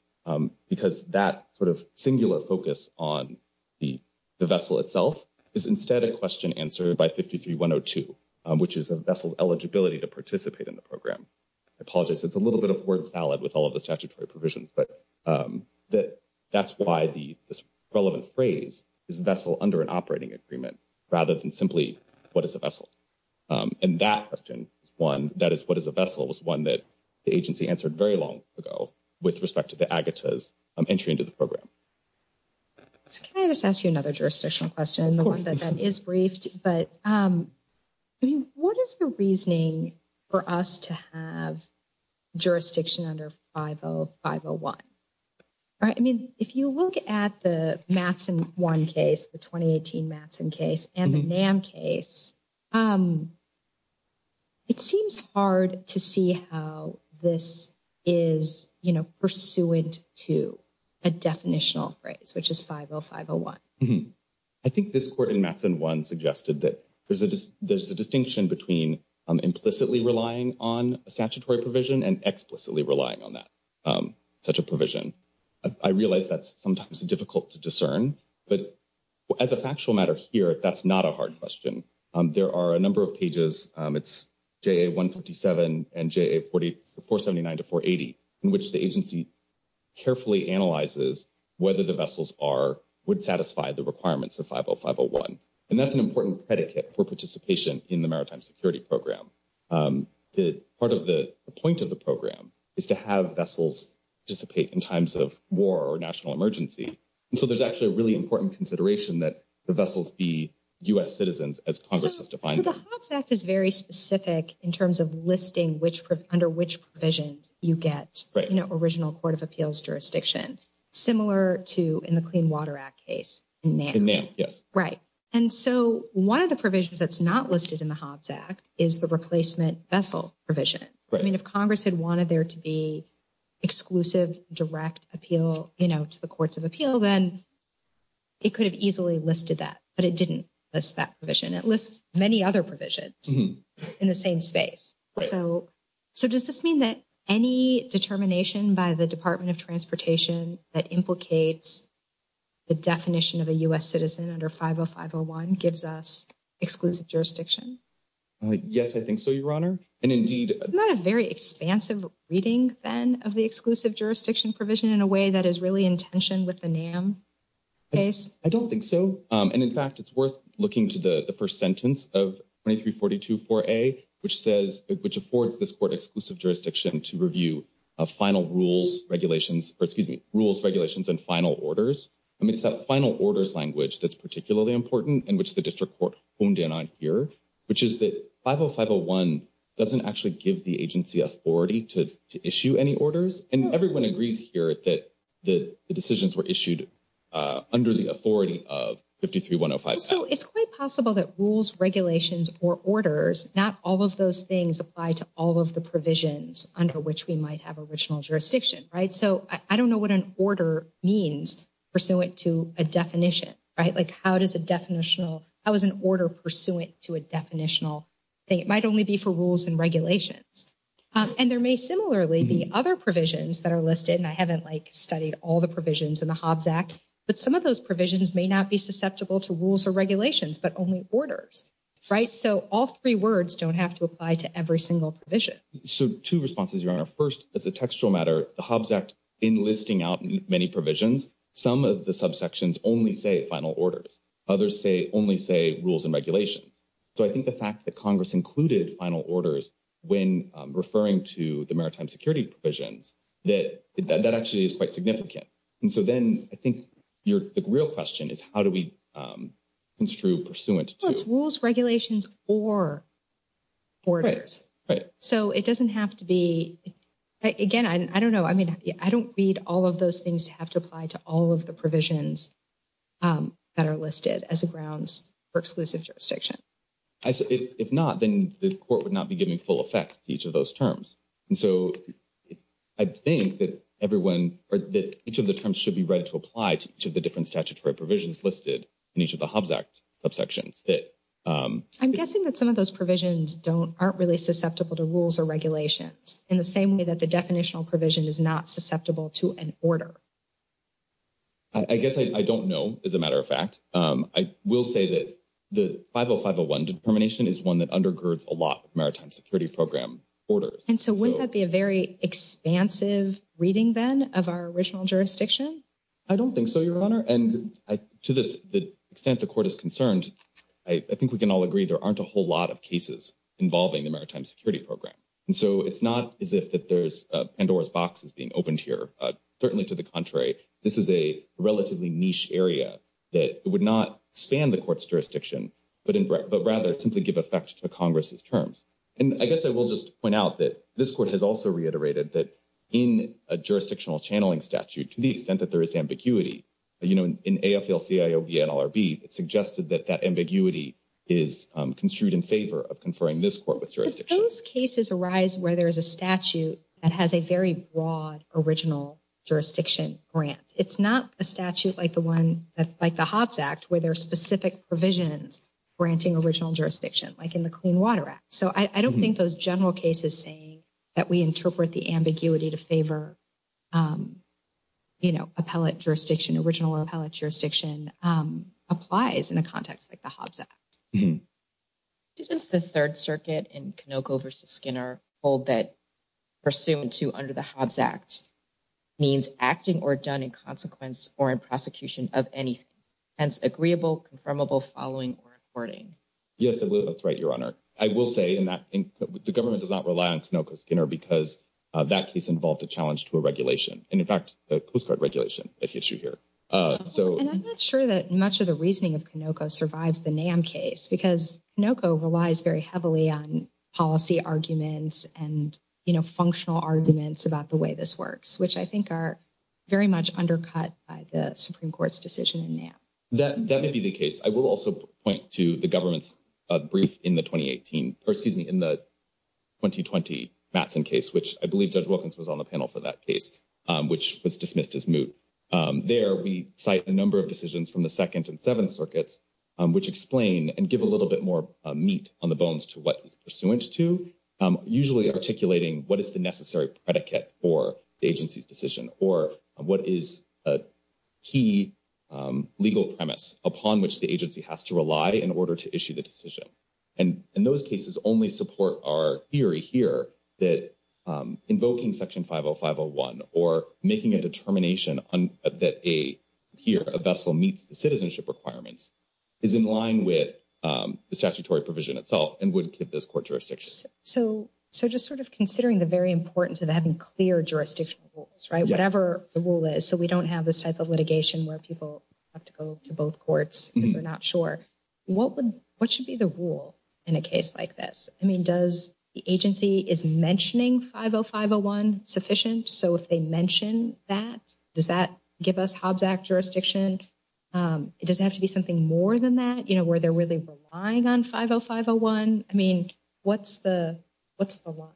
because that sort of singular focus on the vessel itself is instead a question answered by 53-102, which is a vessel eligibility to participate in the program. I apologize. It's a little bit of word salad with all of the statutory provisions. But that's why the relevant phrase is vessel under an operating agreement rather than simply what is a vessel. And that question is one that is what is a vessel is one that the agency answered very long ago with respect to the AGATA's entry into the program. Can I just ask you another jurisdictional question? The one that is briefed, but what is the reasoning for us to have jurisdiction under 50501? I mean, if you look at the Matson 1 case, the 2018 Matson case and the NAM case, it seems hard to see how this is, you know, pursuant to a definitional phrase, which is 50501. I think this court in Matson 1 suggested that there's a distinction between implicitly relying on a statutory provision and explicitly relying on that, such a provision. I realize that's sometimes difficult to discern, but as a factual matter of spirit, that's not a hard question. There are a number of pages, it's JA 157 and JA 479 to 480, in which the agency carefully analyzes whether the vessels are, would satisfy the requirements of 50501. And that's an important predicate for participation in the Maritime Security Program. Part of the point of the program is to have vessels participate in times of war or national emergency. And so there's actually a really important consideration that the vessels be U.S. citizens, as Congress has defined them. The Hobbs Act is very specific in terms of listing under which provisions you get in an original court of appeals jurisdiction, similar to in the Clean Water Act case in NAM. In NAM, yes. Right. And so one of the provisions that's not listed in the Hobbs Act is the replacement vessel provision. I mean, if Congress had wanted there to be exclusive direct appeal, you know, to the courts of appeal, then it could have easily listed that. But it didn't list that provision. It lists many other provisions in the same space. So does this mean that any determination by the Department of Transportation that implicates the definition of a U.S. citizen under 50501 gives us exclusive jurisdiction? Yes, I think so, Your Honor. Isn't that a very expansive reading, then, of the exclusive jurisdiction provision in a way that is really in tension with the NAM case? I don't think so. And, in fact, it's worth looking to the first sentence of 2342-4A, which says – which affords this court exclusive jurisdiction to review final rules, regulations – or, excuse me, rules, regulations, and final orders. I mean, it's that final order language that's particularly important and which the district court phoned in on here, which is that 50501 doesn't actually give the agency authority to issue any orders. And everyone agrees here that the decisions were issued under the authority of 53105. So it's quite possible that rules, regulations, or orders – not all of those things apply to all of the provisions under which we might have original jurisdiction, right? So I don't know what an order means pursuant to a definition, right? Like, how does a definitional – how is an order pursuant to a definitional thing? It might only be for rules and regulations. And there may similarly be other provisions that are listed, and I haven't, like, studied all the provisions in the Hobbs Act. But some of those provisions may not be susceptible to rules or regulations but only orders, right? So all three words don't have to apply to every single provision. So two responses, Your Honor. First, as a textual matter, the Hobbs Act, in listing out many provisions, some of the subsections only say final orders. Others only say rules and regulations. So I think the fact that Congress included final orders when referring to the maritime security provisions, that actually is quite significant. And so then I think the real question is how do we construe pursuant to – Well, it's rules, regulations, or orders. Right, right. So it doesn't have to be – again, I don't know. I mean, I don't read all of those things have to apply to all of the provisions that are listed as the grounds for exclusive jurisdiction. If not, then the court would not be giving full effect to each of those terms. And so I think that everyone – or that each of the terms should be read to apply to each of the different statutory provisions listed in each of the Hobbs Act subsections. I'm guessing that some of those provisions aren't really susceptible to rules or regulations in the same way that the definitional provision is not susceptible to an order. I guess I don't know, as a matter of fact. I will say that the 50501 determination is one that undergirds a lot of maritime security program orders. And so wouldn't that be a very expansive reading then of our original jurisdiction? I don't think so, Your Honor. And to the extent the court is concerned, I think we can all agree there aren't a whole lot of cases involving the maritime security program. And so it's not as if there's Pandora's boxes being opened here. Certainly to the contrary, this is a relatively niche area that would not stand the court's jurisdiction, but rather simply give effect to Congress's terms. And I guess I will just point out that this court has also reiterated that in a jurisdictional channeling statute, to the extent that there is ambiguity – you know, in AFL-CIO v. NLRB, it suggested that that ambiguity is construed in favor of conferring this court with jurisdiction. Those cases arise where there's a statute that has a very broad original jurisdiction grant. It's not a statute like the Hobbs Act where there are specific provisions granting original jurisdiction, like in the Clean Water Act. So I don't think those general cases saying that we interpret the ambiguity to favor, you know, appellate jurisdiction, original appellate jurisdiction, applies in a context like the Hobbs Act. Does the Third Circuit in Canoco v. Skinner hold that Pursuant to under the Hobbs Act means acting or done in consequence or in prosecution of anything, hence agreeable, confirmable, following, or according? Yes, it will. That's right, Your Honor. I will say, and I think the government does not rely on Canoco v. Skinner because that case involved a challenge to a regulation. And in fact, it was a regulation at issue here. And I'm not sure that much of the reasoning of Canoco survives the NAM case because Canoco relies very heavily on policy arguments and, you know, functional arguments about the way this works, which I think are very much undercut by the Supreme Court's decision in NAM. That may be the case. I will also point to the government's brief in the 2018, or excuse me, in the 2020 Matson case, which I believe Judge Wilkins was on the panel for that case, which was dismissed as moot. There we cite a number of decisions from the Second and Seventh Circuits, which explain and give a little bit more meat on the bones to what he's pursuant to, usually articulating what is the necessary predicate for the agency's decision or what is a key legal premise upon which the agency has to rely in order to issue the decision. And those cases only support our theory here that invoking Section 50501 or making a determination that a vessel meets the citizenship requirements is in line with the statutory provision itself and wouldn't give those court jurisdictions. So just sort of considering the very importance of having clear jurisdiction rules, right, whatever the rule is, so we don't have this type of litigation where people have to go to both courts if they're not sure. What should be the rule in a case like this? I mean, does the agency, is mentioning 50501 sufficient? So if they mention that, does that give us Hobbs Act jurisdiction? Does it have to be something more than that, you know, where they're really relying on 50501? I mean, what's the, what's the law?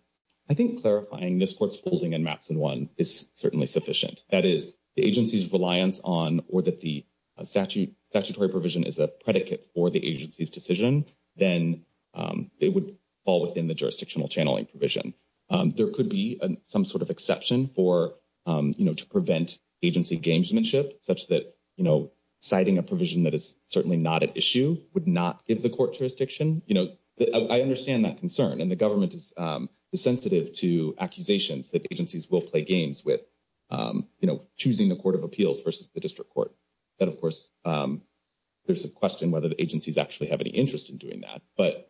I think clarifying this court's ruling in Matson 1 is certainly sufficient. That is, the agency's reliance on or that the statutory provision is a predicate for the agency's decision, then it would fall within the jurisdictional channeling provision. There could be some sort of exception for, you know, to prevent agency gamesmanship such that, you know, citing a provision that is certainly not at issue would not give the court jurisdiction. You know, I understand that concern, and the government is sensitive to accusations that agencies will play games with, you know, choosing the court of appeals versus the district court. But, of course, there's a question whether the agencies actually have any interest in doing that. But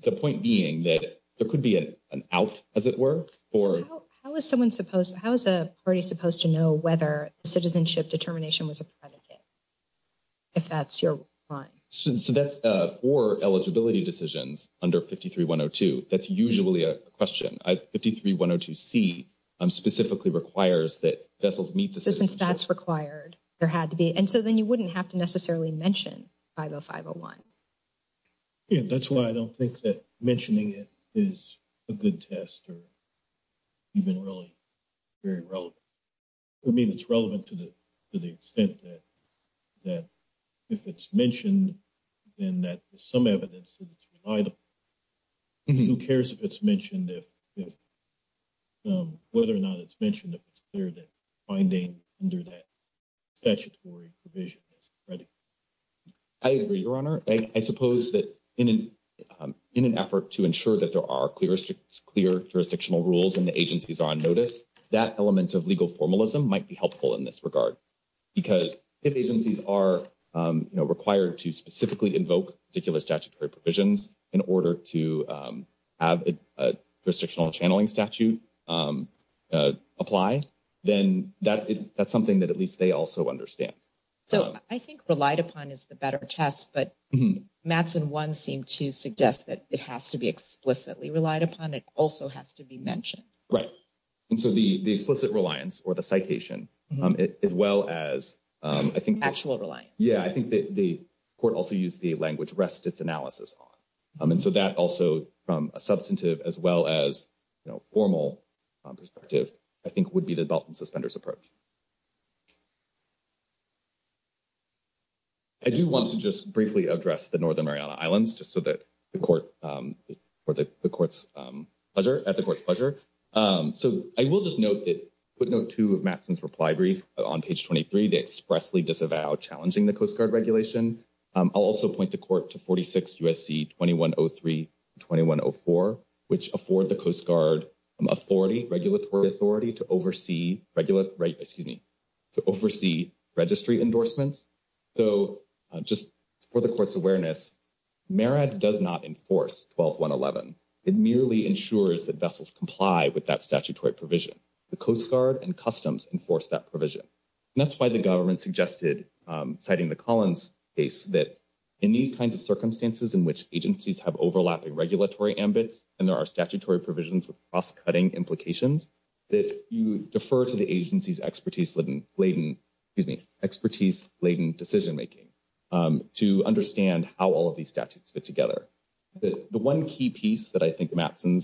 the point being that there could be an out, as it were, or. How is someone supposed, how is a party supposed to know whether citizenship determination was a predicate, if that's your line? So that's for eligibility decisions under 53-102. That's usually a question. 53-102C specifically requires that vessels need to. Since that's required, there had to be. And so then you wouldn't have to necessarily mention 50501. Yeah, that's why I don't think that mentioning it is a good test or even really very relevant. I mean, it's relevant to the extent that if it's mentioned and that some evidence is denied, who cares if it's mentioned, whether or not it's mentioned, if it's clear that finding under that statutory provision. I agree, Your Honor. I suppose that in an effort to ensure that there are clear jurisdictional rules and the agencies are on notice, that element of legal formalism might be helpful in this regard. Because if agencies are required to specifically invoke particular statutory provisions in order to have a jurisdictional channeling statute apply, then that's something that at least they also understand. So I think relied upon is the better test, but maps in one seem to suggest that it has to be explicitly relied upon. It also has to be mentioned. Right. And so the explicit reliance or the citation, as well as I think. Actual reliance. Yeah, I think the court also used the language rest its analysis on. I mean, so that also from a substantive as well as formal perspective, I think, would be the belt and suspenders approach. I do want to just briefly address the Northern Mariana Islands just so that the court or the court's pleasure at the court's pleasure. So I will just note that quick note to Madison's reply brief on page 23, they expressly disavow challenging the Coast Guard regulation. I'll also point the court to 46 USC, 2103, 2104, which afford the Coast Guard authority regulatory authority to oversee regular, excuse me, to oversee registry endorsements. So, just for the court's awareness, merit does not enforce 1211. It merely ensures that vessels comply with that statutory provision. The Coast Guard and customs enforce that provision. That's why the government suggested, citing the Collins case, that in these kinds of circumstances in which agencies have overlapping regulatory ambit, and there are statutory provisions of cutting implications. That you defer to the agency's expertise laden, excuse me, expertise laden decision making to understand how all of these statutes fit together. The one key piece that I think Madison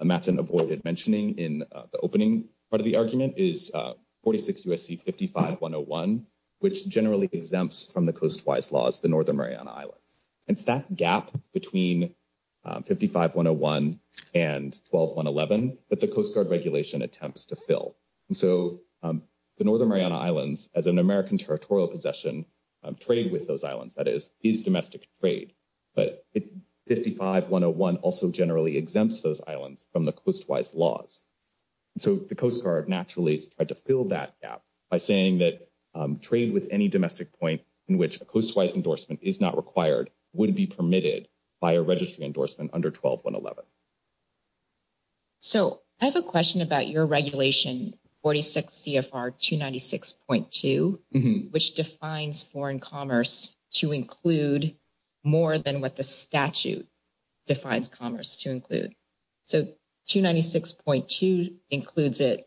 avoided mentioning in the opening part of the argument is 46 USC 55101, which generally exempts from the Coast Wise laws, the Northern Mariana Islands. It's that gap between 55101 and 1211 that the Coast Guard regulation attempts to fill. So, the Northern Mariana Islands, as an American territorial possession, trade with those islands. That is, these domestic trade. But 55101 also generally exempts those islands from the Coast Wise laws. So, the Coast Guard naturally tried to fill that gap by saying that trade with any domestic point in which a Coast Wise endorsement is not required would be permitted by a registry endorsement under 12111. So, I have a question about your regulation 46 CFR 296.2, which defines foreign commerce to include more than what the statute defines commerce to include. So, 296.2 includes it.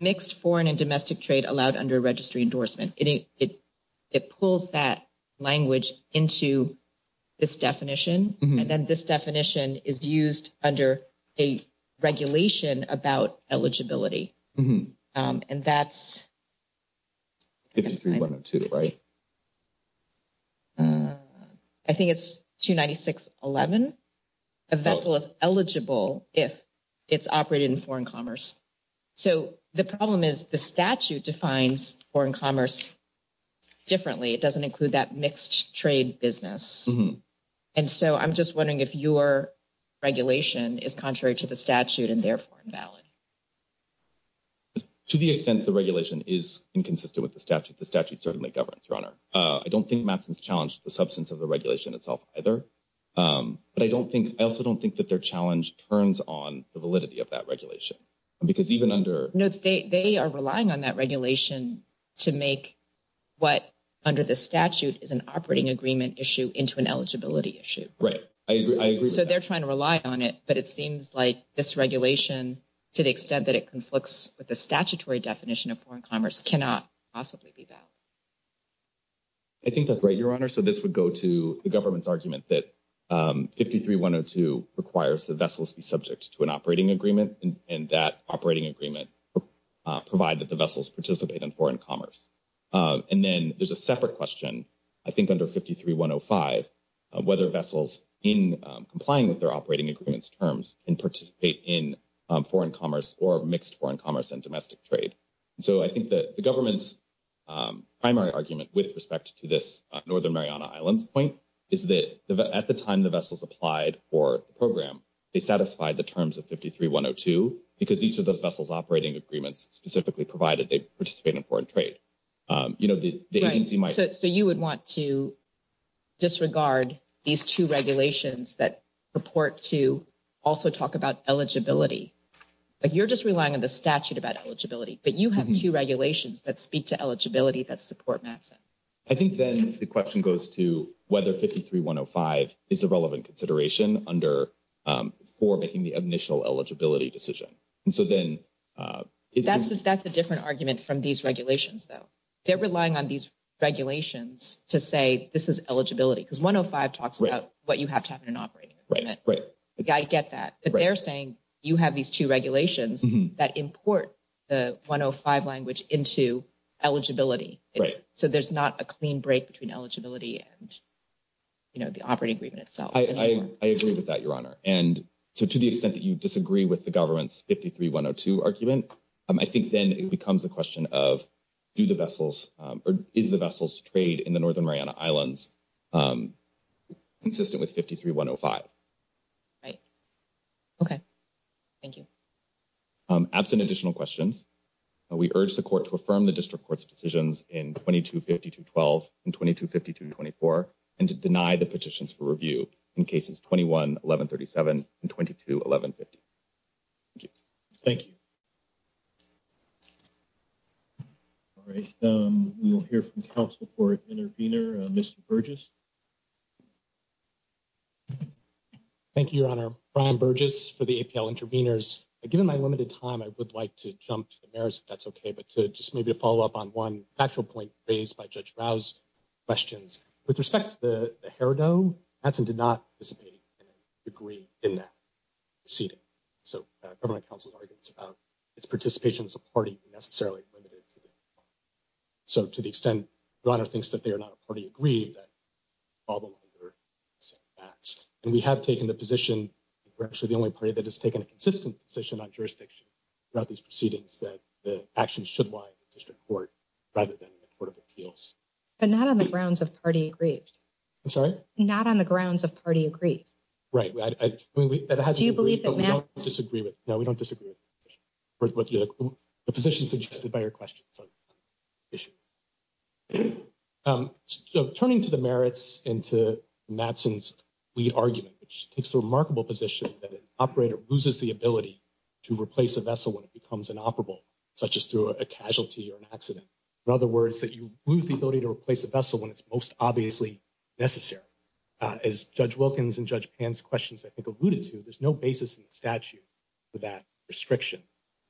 Mixed foreign and domestic trade allowed under registry endorsement. It pulls that language into this definition. And then this definition is used under a regulation about eligibility. 63102, right? I think it's 296.11. A vessel is eligible if it's operated in foreign commerce. So, the problem is the statute defines foreign commerce differently. It doesn't include that mixed trade business. And so, I'm just wondering if your regulation is contrary to the statute and therefore invalid. To the extent the regulation is inconsistent with the statute, the statute certainly governs, Your Honor. I don't think Maxim's challenged the substance of the regulation itself either. But I don't think – I also don't think that their challenge turns on the validity of that regulation. Because even under – No, they are relying on that regulation to make what under the statute is an operating agreement issue into an eligibility issue. Right. I agree. So, they're trying to rely on it. But it seems like this regulation, to the extent that it conflicts with the statutory definition of foreign commerce, cannot possibly be that. I think that's right, Your Honor. So, this would go to the government's argument that 53102 requires the vessels be subject to an operating agreement. And that operating agreement would provide that the vessels participate in foreign commerce. And then there's a separate question, I think under 53105, whether vessels in complying with their operating agreements terms can participate in foreign commerce or mixed foreign commerce and domestic trade. So, I think the government's primary argument with respect to this Northern Mariana Islands point is that at the time the vessels applied for the program, they satisfied the terms of 53102. Because each of those vessels operating agreements specifically provided they participate in foreign trade. You know, the agency might – Right. So, you would want to disregard these two regulations that report to also talk about eligibility. Like, you're just relying on the statute about eligibility. But you have two regulations that speak to eligibility that support NAFTA. I think then the question goes to whether 53105 is a relevant consideration under – for making the initial eligibility decision. And so then – That's a different argument from these regulations, though. They're relying on these regulations to say this is eligibility. Because 105 talks about what you have to have in an operating agreement. Right, right. I get that. But they're saying you have these two regulations that import the 105 language into eligibility. Right. So, there's not a clean break between eligibility and, you know, the operating agreement itself. I agree with that, Your Honor. And so, to the extent that you disagree with the government's 53102 argument, I think then it becomes a question of do the vessels – or is the vessels trade in the Northern Mariana Islands consistent with 53105? Right. Okay. Thank you. Absent additional questions, we urge the Court to affirm the District Court's decisions in 2252.12 and 2252.24 and to deny the petitions for review in Cases 21-1137 and 22-1150. Thank you. Thank you. All right. We will hear from Council Court Intervener, Mr. Burgess. Thank you, Your Honor. Brian Burgess for the APL Interveners. Given my limited time, I would like to jump to the merits, if that's okay, but to just maybe follow up on one factual point raised by Judge Rao's questions. With respect to the hairdo, ATSOM did not participate and agree in that proceeding. So, government counsel argues its participation as a party is necessarily limited. So, to the extent Your Honor thinks that they are not a party, I agree that all the lines are matched. And we have taken the position that we're actually the only party that has taken a consistent position on jurisdiction throughout these proceedings that the actions should lie with the District Court rather than the Court of Appeals. But not on the grounds of party agreed. I'm sorry? Not on the grounds of party agreed. Right. Do you believe that Matt... No, we don't disagree. The position is addressed by your question. So, turning to the merits and to Matson's lead argument, which takes the remarkable position that an operator loses the ability to replace a vessel when it becomes inoperable, such as through a casualty or an accident. In other words, that you lose the ability to replace a vessel when it's most obviously necessary. As Judge Wilkins and Judge Pan's questions I think alluded to, there's no basis in the statute for that restriction.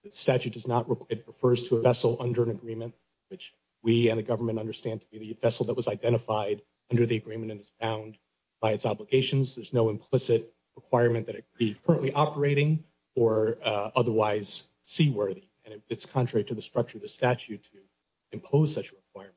The statute does not... It refers to a vessel under an agreement, which we and the government understand to be a vessel that was identified under the agreement and is bound by its obligations. There's no implicit requirement that it be currently operating or otherwise seaworthy. And it's contrary to the structure of the statute to impose such a requirement.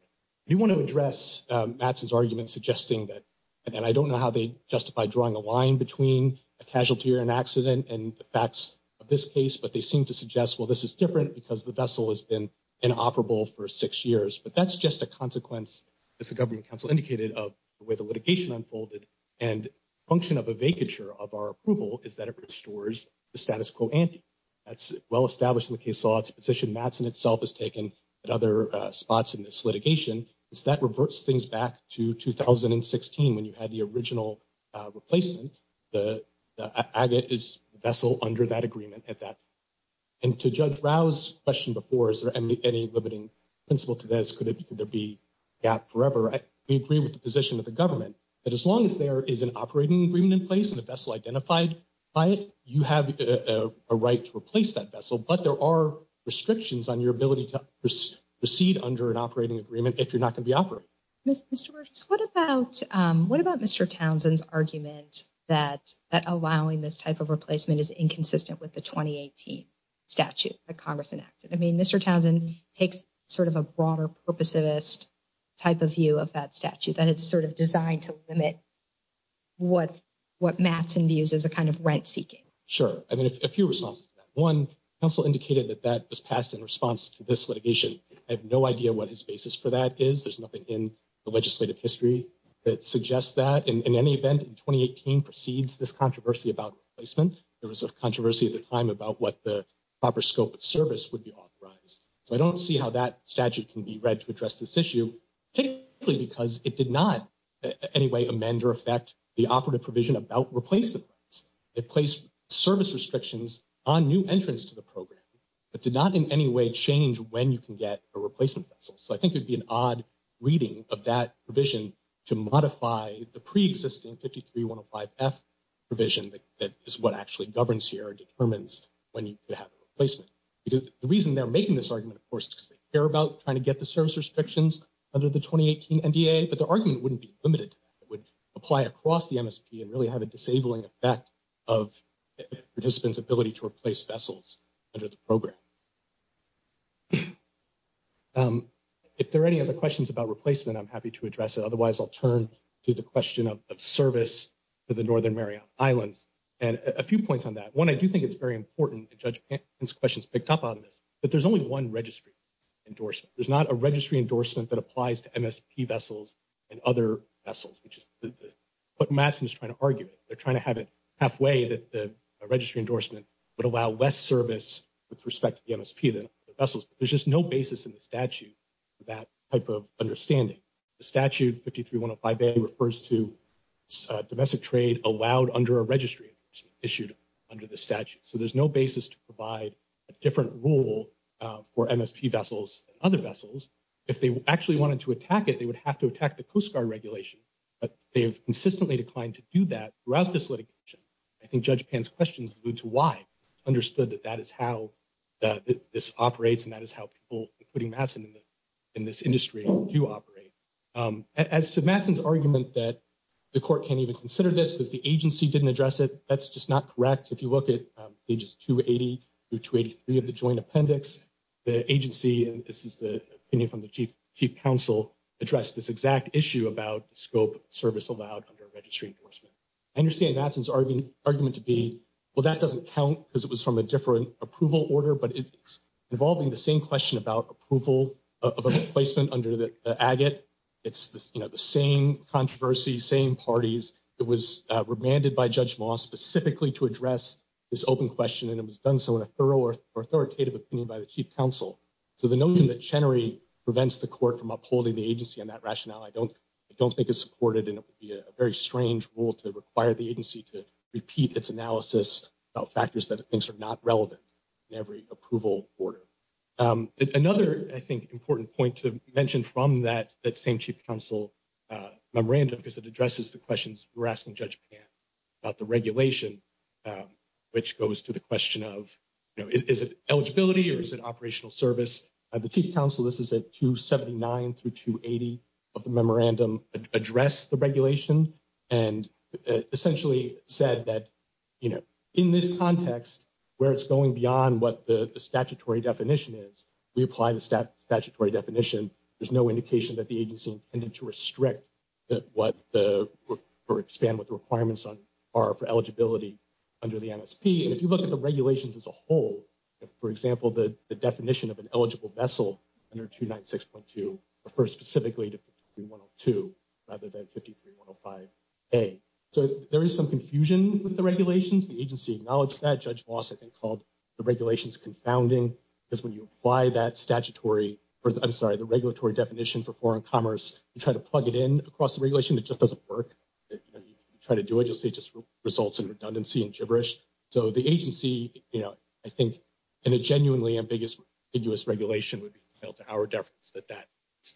We want to address Matson's argument suggesting that... Again, I don't know how they justify drawing a line between a casualty or an accident and the facts of this case, but they seem to suggest, well, this is different because the vessel has been inoperable for six years. But that's just a consequence, as the governing counsel indicated, of the way the litigation unfolded. And function of a vacature of our approval is that it restores the status quo ante. That's well-established in the case law. It's a position Matson itself has taken at other spots in this litigation. That reverts things back to 2016 when you had the original replacement, the vessel under that agreement at that time. And to Judge Rao's question before, is there any limiting principle to this? Could there be a gap forever? I agree with the position of the government that as long as there is an operating agreement in place and a vessel identified by it, you have a right to replace that vessel. But there are restrictions on your ability to proceed under an operating agreement if you're not going to be operating. Mr. Wirtz, what about Mr. Townsend's argument that allowing this type of replacement is inconsistent with the 2018 statute that Congress enacted? I mean, Mr. Townsend takes sort of a broader purposivist type of view of that statute, and it's sort of designed to limit what Matson views as a kind of rent-seeking. Sure. I mean, a few responses to that. One, counsel indicated that that was passed in response to this litigation. I have no idea what his basis for that is. There's nothing in the legislative history that suggests that. In any event, in 2018 precedes this controversy about replacement. There was a controversy at the time about what the proper scope of service would be authorized. So I don't see how that statute can be read to address this issue, particularly because it did not in any way amend or affect the operative provision about replacement. It placed service restrictions on new entrants to the program. It did not in any way change when you can get a replacement vessel. So I think it would be an odd reading of that provision to modify the preexisting 53-105-F provision that is what actually governs here and determines when you could have a replacement. The reason they're making this argument, of course, is because they care about trying to get the service restrictions under the 2018 NDA, but the argument wouldn't be limited to that. It would apply across the MSP and really have a disabling effect of participants' ability to replace vessels under the program. If there are any other questions about replacement, I'm happy to address it. Otherwise, I'll turn to the question of service to the Northern Mariana Islands. And a few points on that. One, I do think it's very important to judge Ken's questions picked up on this, but there's only one registry endorsement. There's not a registry endorsement that applies to MSP vessels and other vessels, which is what Maxim is trying to argue. They're trying to have it halfway that the registry endorsement would allow less service with respect to the MSP vessels. There's just no basis in the statute for that type of understanding. The statute 53-105A refers to domestic trade allowed under a registry issued under the statute. So there's no basis to provide a different rule for MSP vessels and other vessels. If they actually wanted to attack it, they would have to attack the Coast Guard regulation. But they have consistently declined to do that throughout this litigation. I think Judge Pan's questions allude to why. It's understood that that is how this operates and that is how people, including Maxim, in this industry do operate. As to Maxim's argument that the court can't even consider this, that the agency didn't address it, that's just not correct. If you look at pages 280 through 283 of the joint appendix, the agency, and this is the opinion from the chief counsel, addressed this exact issue about the scope of service allowed under a registry endorsement. I understand Maxim's argument to be, well, that doesn't count because it was from a different approval order, but it's involving the same question about approval of a replacement under the agit. It's the same controversy, same parties. It was remanded by Judge Moss specifically to address this open question, and it was done so in a thorough or authoritative opinion by the chief counsel. So the notion that Chenery prevents the court from upholding the agency on that rationale, I don't think is supported in a very strange rule to require the agency to repeat its analysis of factors that it thinks are not relevant in every approval order. Another, I think, important point to mention from that same chief counsel memorandum is it addresses the questions we're asking Judge Pan about the regulation, which goes to the question of, you know, is it eligibility or is it operational service? The chief counsel, this is at 279 through 280 of the memorandum, addressed the regulation and essentially said that, you know, in this context where it's going beyond what the statutory definition is, we apply the statutory definition. There's no indication that the agency intended to restrict or expand what the requirements are for eligibility under the NSP. And if you look at the regulations as a whole, for example, the definition of an eligible vessel under 296.2 refers specifically to 53102 rather than 53105A. So there is some confusion with the regulations. The agency acknowledged that. Judge Moss, I think, called the regulations confounding because when you apply that statutory – I'm sorry, the regulatory definition for foreign commerce, you try to plug it in across the regulation, it just doesn't work. You try to do it, it just results in redundancy and gibberish. So the agency, you know, I think in a genuinely ambiguous regulation would be held to our deference that that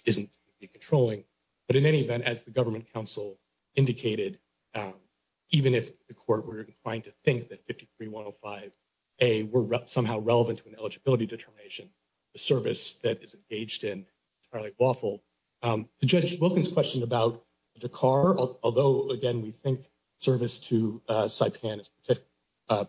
isn't controlling. But in any event, as the government counsel indicated, even if the court were inclined to think that 53105A were somehow relevant to an eligibility determination, the service that is engaged in is probably lawful. To Judge Wilkins' question about the Dakar, although, again, we think service to Saipan is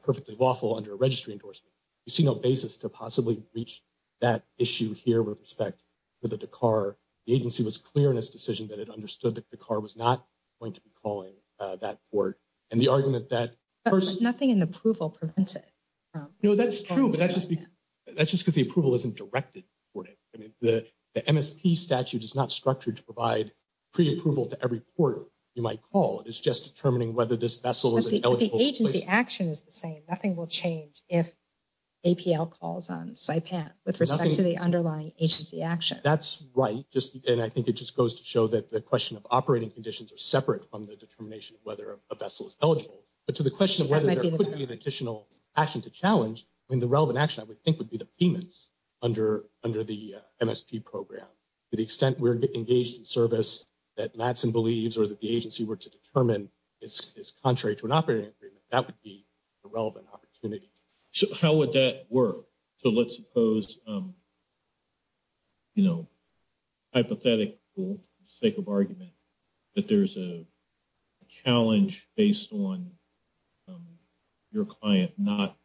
perfectly lawful under a registry endorsement, we see no basis to possibly reach that issue here with respect to the Dakar. The agency was clear in its decision that it understood that Dakar was not going to be calling that court. And the argument that – But nothing in the approval prevented – No, that's true, but that's just because the approval isn't directed for it. I mean, the MSP statute is not structured to provide pre-approval to every court you might call. It's just determining whether this vessel is an eligible – But the agency action is the same. Nothing will change if APL calls on Saipan with respect to the underlying agency action. That's right. And I think it just goes to show that the question of operating conditions are separate from the determination of whether a vessel is eligible. But to the question of whether there could be an additional action to challenge, I mean, the relevant action, I would think, would be the payments under the MSP program. To the extent we're engaged in service that MADSEN believes or that the agency were to determine is contrary to an operating agreement, that would be the relevant opportunity. How would that work? So let's suppose, you know, hypothetically, for the sake of argument, that there's a challenge based on your client not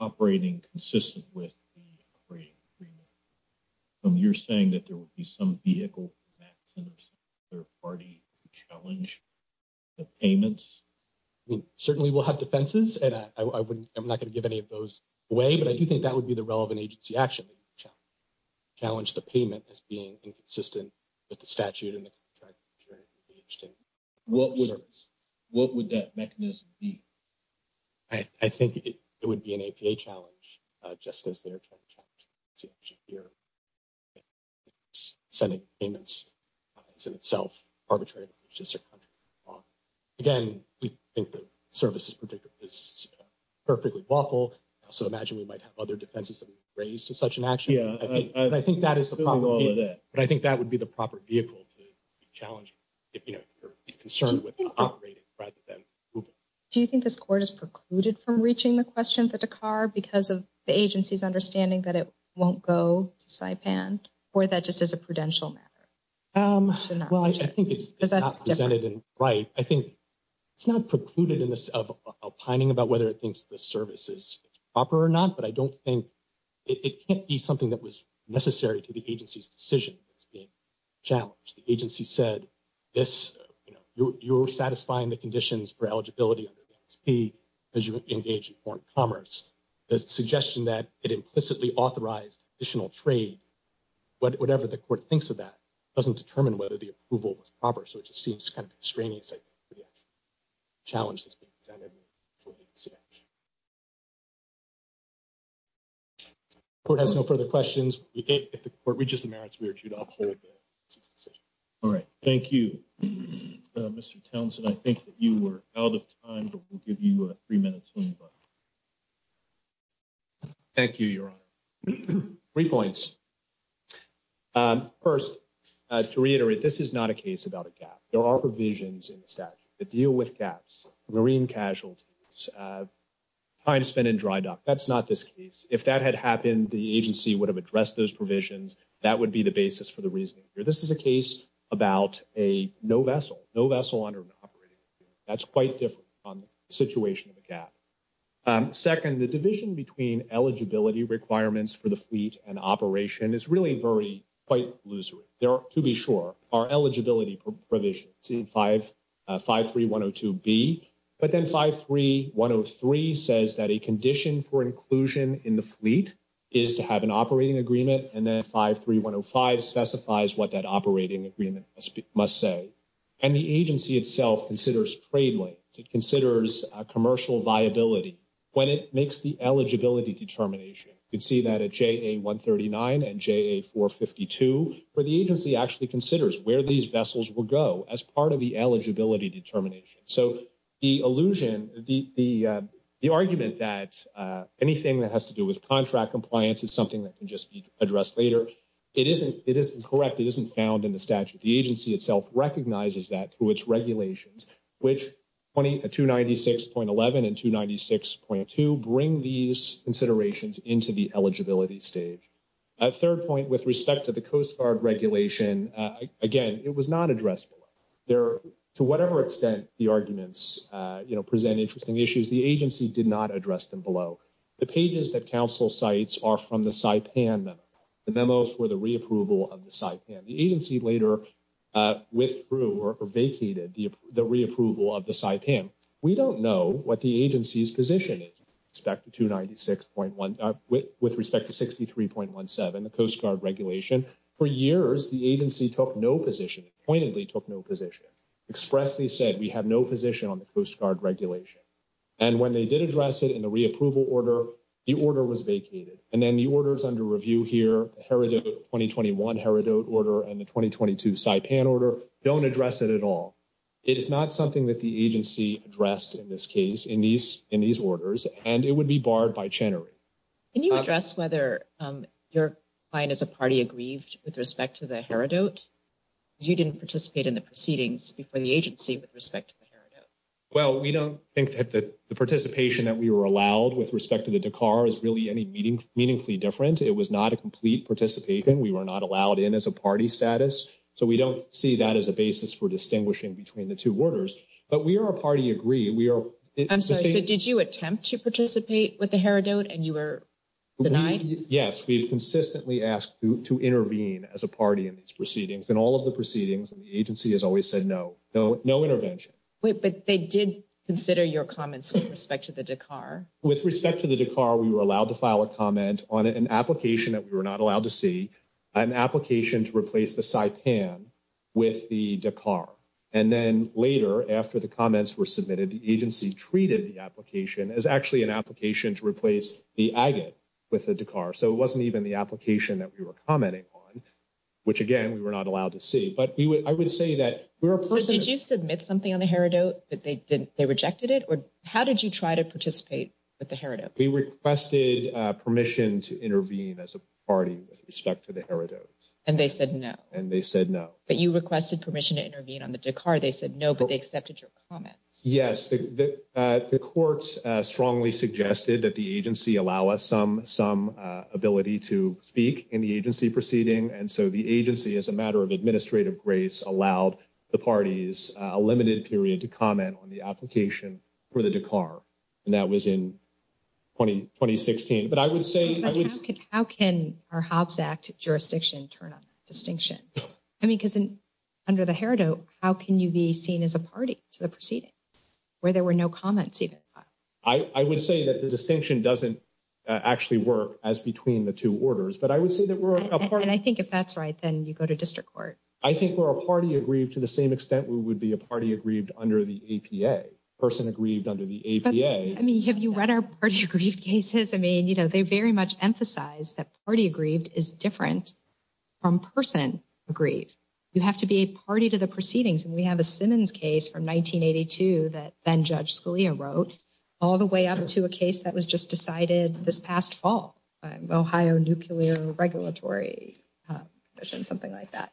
operating consistent with the operating agreement. And you're saying that there would be some vehicle for MADSEN of some third party to challenge the payments? I mean, certainly we'll have defenses, and I'm not going to give any of those away, but I do think that would be the relevant agency action to challenge the payment as being inconsistent with the statute. What would that mechanism be? I think it would be an APA challenge, just as they're trying to challenge it here. Sending payments is in itself arbitrary. Again, we think the service is perfectly lawful, so imagine we might have other defenses that would be raised to such an action. I think that is the problem. But I think that would be the proper vehicle to challenge it, you know, if you're concerned with operating rather than approval. Do you think this court is precluded from reaching the question for Dakar because of the agency's understanding that it won't go to Saipan, or that just is a prudential matter? Well, I think it's not presented in light. I think it's not precluded in this outlining about whether it thinks the service is proper or not, but I don't think – it can't be something that was necessary to the agency's decision as being challenged. The agency said, you know, you're satisfying the conditions for eligibility under the MSP because you engage in foreign commerce. The suggestion that it implicitly authorized additional trade, whatever the court thinks of that, doesn't determine whether the approval was proper, so it just seems kind of extraneous, I think, for the challenge that's been presented. The court has no further questions. If the court reaches a merit, we urge you to uphold the decision. All right. Thank you, Mr. Townsend. I think that you were out of time, but we'll give you three minutes. Thank you, Your Honor. Three points. First, to reiterate, this is not a case about a gap. There are provisions in the statute that deal with gaps, marine casualties, time spent in dry dock. That's not this case. If that had happened, the agency would have addressed those provisions. That would be the basis for the reasoning here. This is a case about a no vessel, no vessel under an operating agreement. That's quite different on the situation of a gap. Second, the division between eligibility requirements for the fleet and operation is really quite illusory. To be sure, our eligibility provisions, see 53102B, but then 53103 says that a condition for inclusion in the fleet is to have an operating agreement, and then 53105 specifies what that operating agreement must say. And the agency itself considers trade links. It considers commercial viability when it makes the eligibility determination. You can see that at JA139 and JA452 where the agency actually considers where these vessels will go as part of the eligibility determination. So the allusion, the argument that anything that has to do with contract compliance is something that can just be addressed later, it isn't correct. It isn't found in the statute. The agency itself recognizes that through its regulations, which 296.11 and 296.2 bring these considerations into the eligibility stage. A third point with respect to the Coast Guard regulation, again, it was not addressed. To whatever extent the arguments present interesting issues, the agency did not address them below. The pages that counsel cites are from the Saipan memo, the memo for the reapproval of the Saipan. The agency later withdrew or vacated the reapproval of the Saipan. We don't know what the agency's position is with respect to 296.1, with respect to 63.17, the Coast Guard regulation. For years, the agency took no position, pointedly took no position, expressly said we have no position on the Coast Guard regulation. And when they did address it in the reapproval order, the order was vacated. And then the orders under review here, the Heredote 2021 Heredote order and the 2022 Saipan order, don't address it at all. It is not something that the agency addressed in this case, in these orders, and it would be barred by channeling. Can you address whether your client as a party agrees with respect to the Heredote? You didn't participate in the proceedings before the agency with respect to the Heredote. Well, we don't think that the participation that we were allowed with respect to the Dakar is really any meaningfully different. It was not a complete participation. We were not allowed in as a party status. So we don't see that as a basis for distinguishing between the two orders. But we are a party agree. I'm sorry, did you attempt to participate with the Heredote and you were denied? Yes, we consistently asked to intervene as a party in these proceedings. In all of the proceedings, the agency has always said no, no intervention. But they did consider your comments with respect to the Dakar. With respect to the Dakar, we were allowed to file a comment on an application that we were not allowed to see, an application to replace the Saipan with the Dakar. And then later, after the comments were submitted, the agency treated the application as actually an application to replace the Agate with the Dakar. So it wasn't even the application that we were commenting on, which, again, we were not allowed to see. But did you submit something on the Heredote that they rejected it? Or how did you try to participate with the Heredote? We requested permission to intervene as a party with respect to the Heredote. And they said no. And they said no. But you requested permission to intervene on the Dakar. They said no, but they accepted your comments. Yes, the courts strongly suggested that the agency allow us some ability to speak in the agency proceeding. And so the agency, as a matter of administrative grace, allowed the parties a limited period to comment on the application for the Dakar. And that was in 2016. But I would say – But how can our Hobbs Act jurisdiction turn a distinction? I mean, because under the Heredote, how can you be seen as a party to the proceedings where there were no comments even filed? I would say that the distinction doesn't actually work as between the two orders. But I would say that we're a party – And I think if that's right, then you go to district court. I think we're a party aggrieved to the same extent we would be a party aggrieved under the APA, person aggrieved under the APA. I mean, have you read our party aggrieved cases? I mean, you know, they very much emphasize that party aggrieved is different from person aggrieved. You have to be a party to the proceedings. And we have a Simmons case from 1982 that then-Judge Scalia wrote, all the way up to a case that was just decided this past fall, Ohio Nuclear Regulatory Commission, something like that.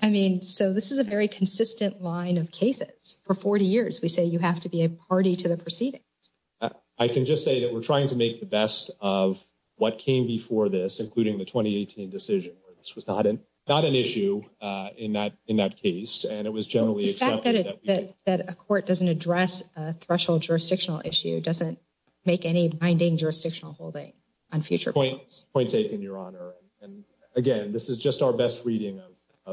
I mean, so this is a very consistent line of cases. For 40 years, we say you have to be a party to the proceedings. I can just say that we're trying to make the best of what came before this, including the 2018 decision. This was not an issue in that case, and it was generally accepted. The fact that a court doesn't address a threshold jurisdictional issue doesn't make any binding jurisdictional holding on future cases. Point taken, Your Honor. And again, this is just our best reading of-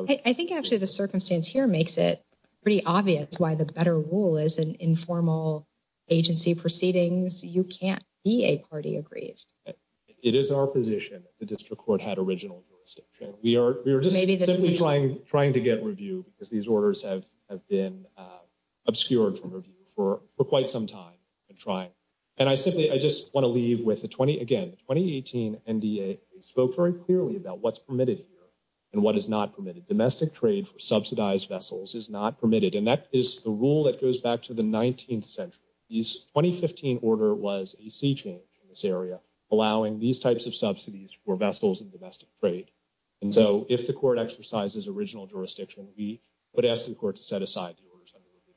I think actually the circumstance here makes it pretty obvious why the better rule is an informal agency proceedings. You can't be a party aggrieved. It is our position that the district court had original jurisdiction. We are just simply trying to get review because these orders have been obscured from review for quite some time and trying. And I simply-I just want to leave with the 20-again, the 2018 NDA spoke very clearly about what's permitted here and what is not permitted. Domestic trade for subsidized vessels is not permitted, and that is the rule that goes back to the 19th century. The 2015 order was a sea change in this area, allowing these types of subsidies for vessels and domestic trade. And so if the court exercises original jurisdiction, we would ask the court to set aside the orders under review.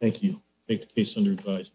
Thank you. Case under review.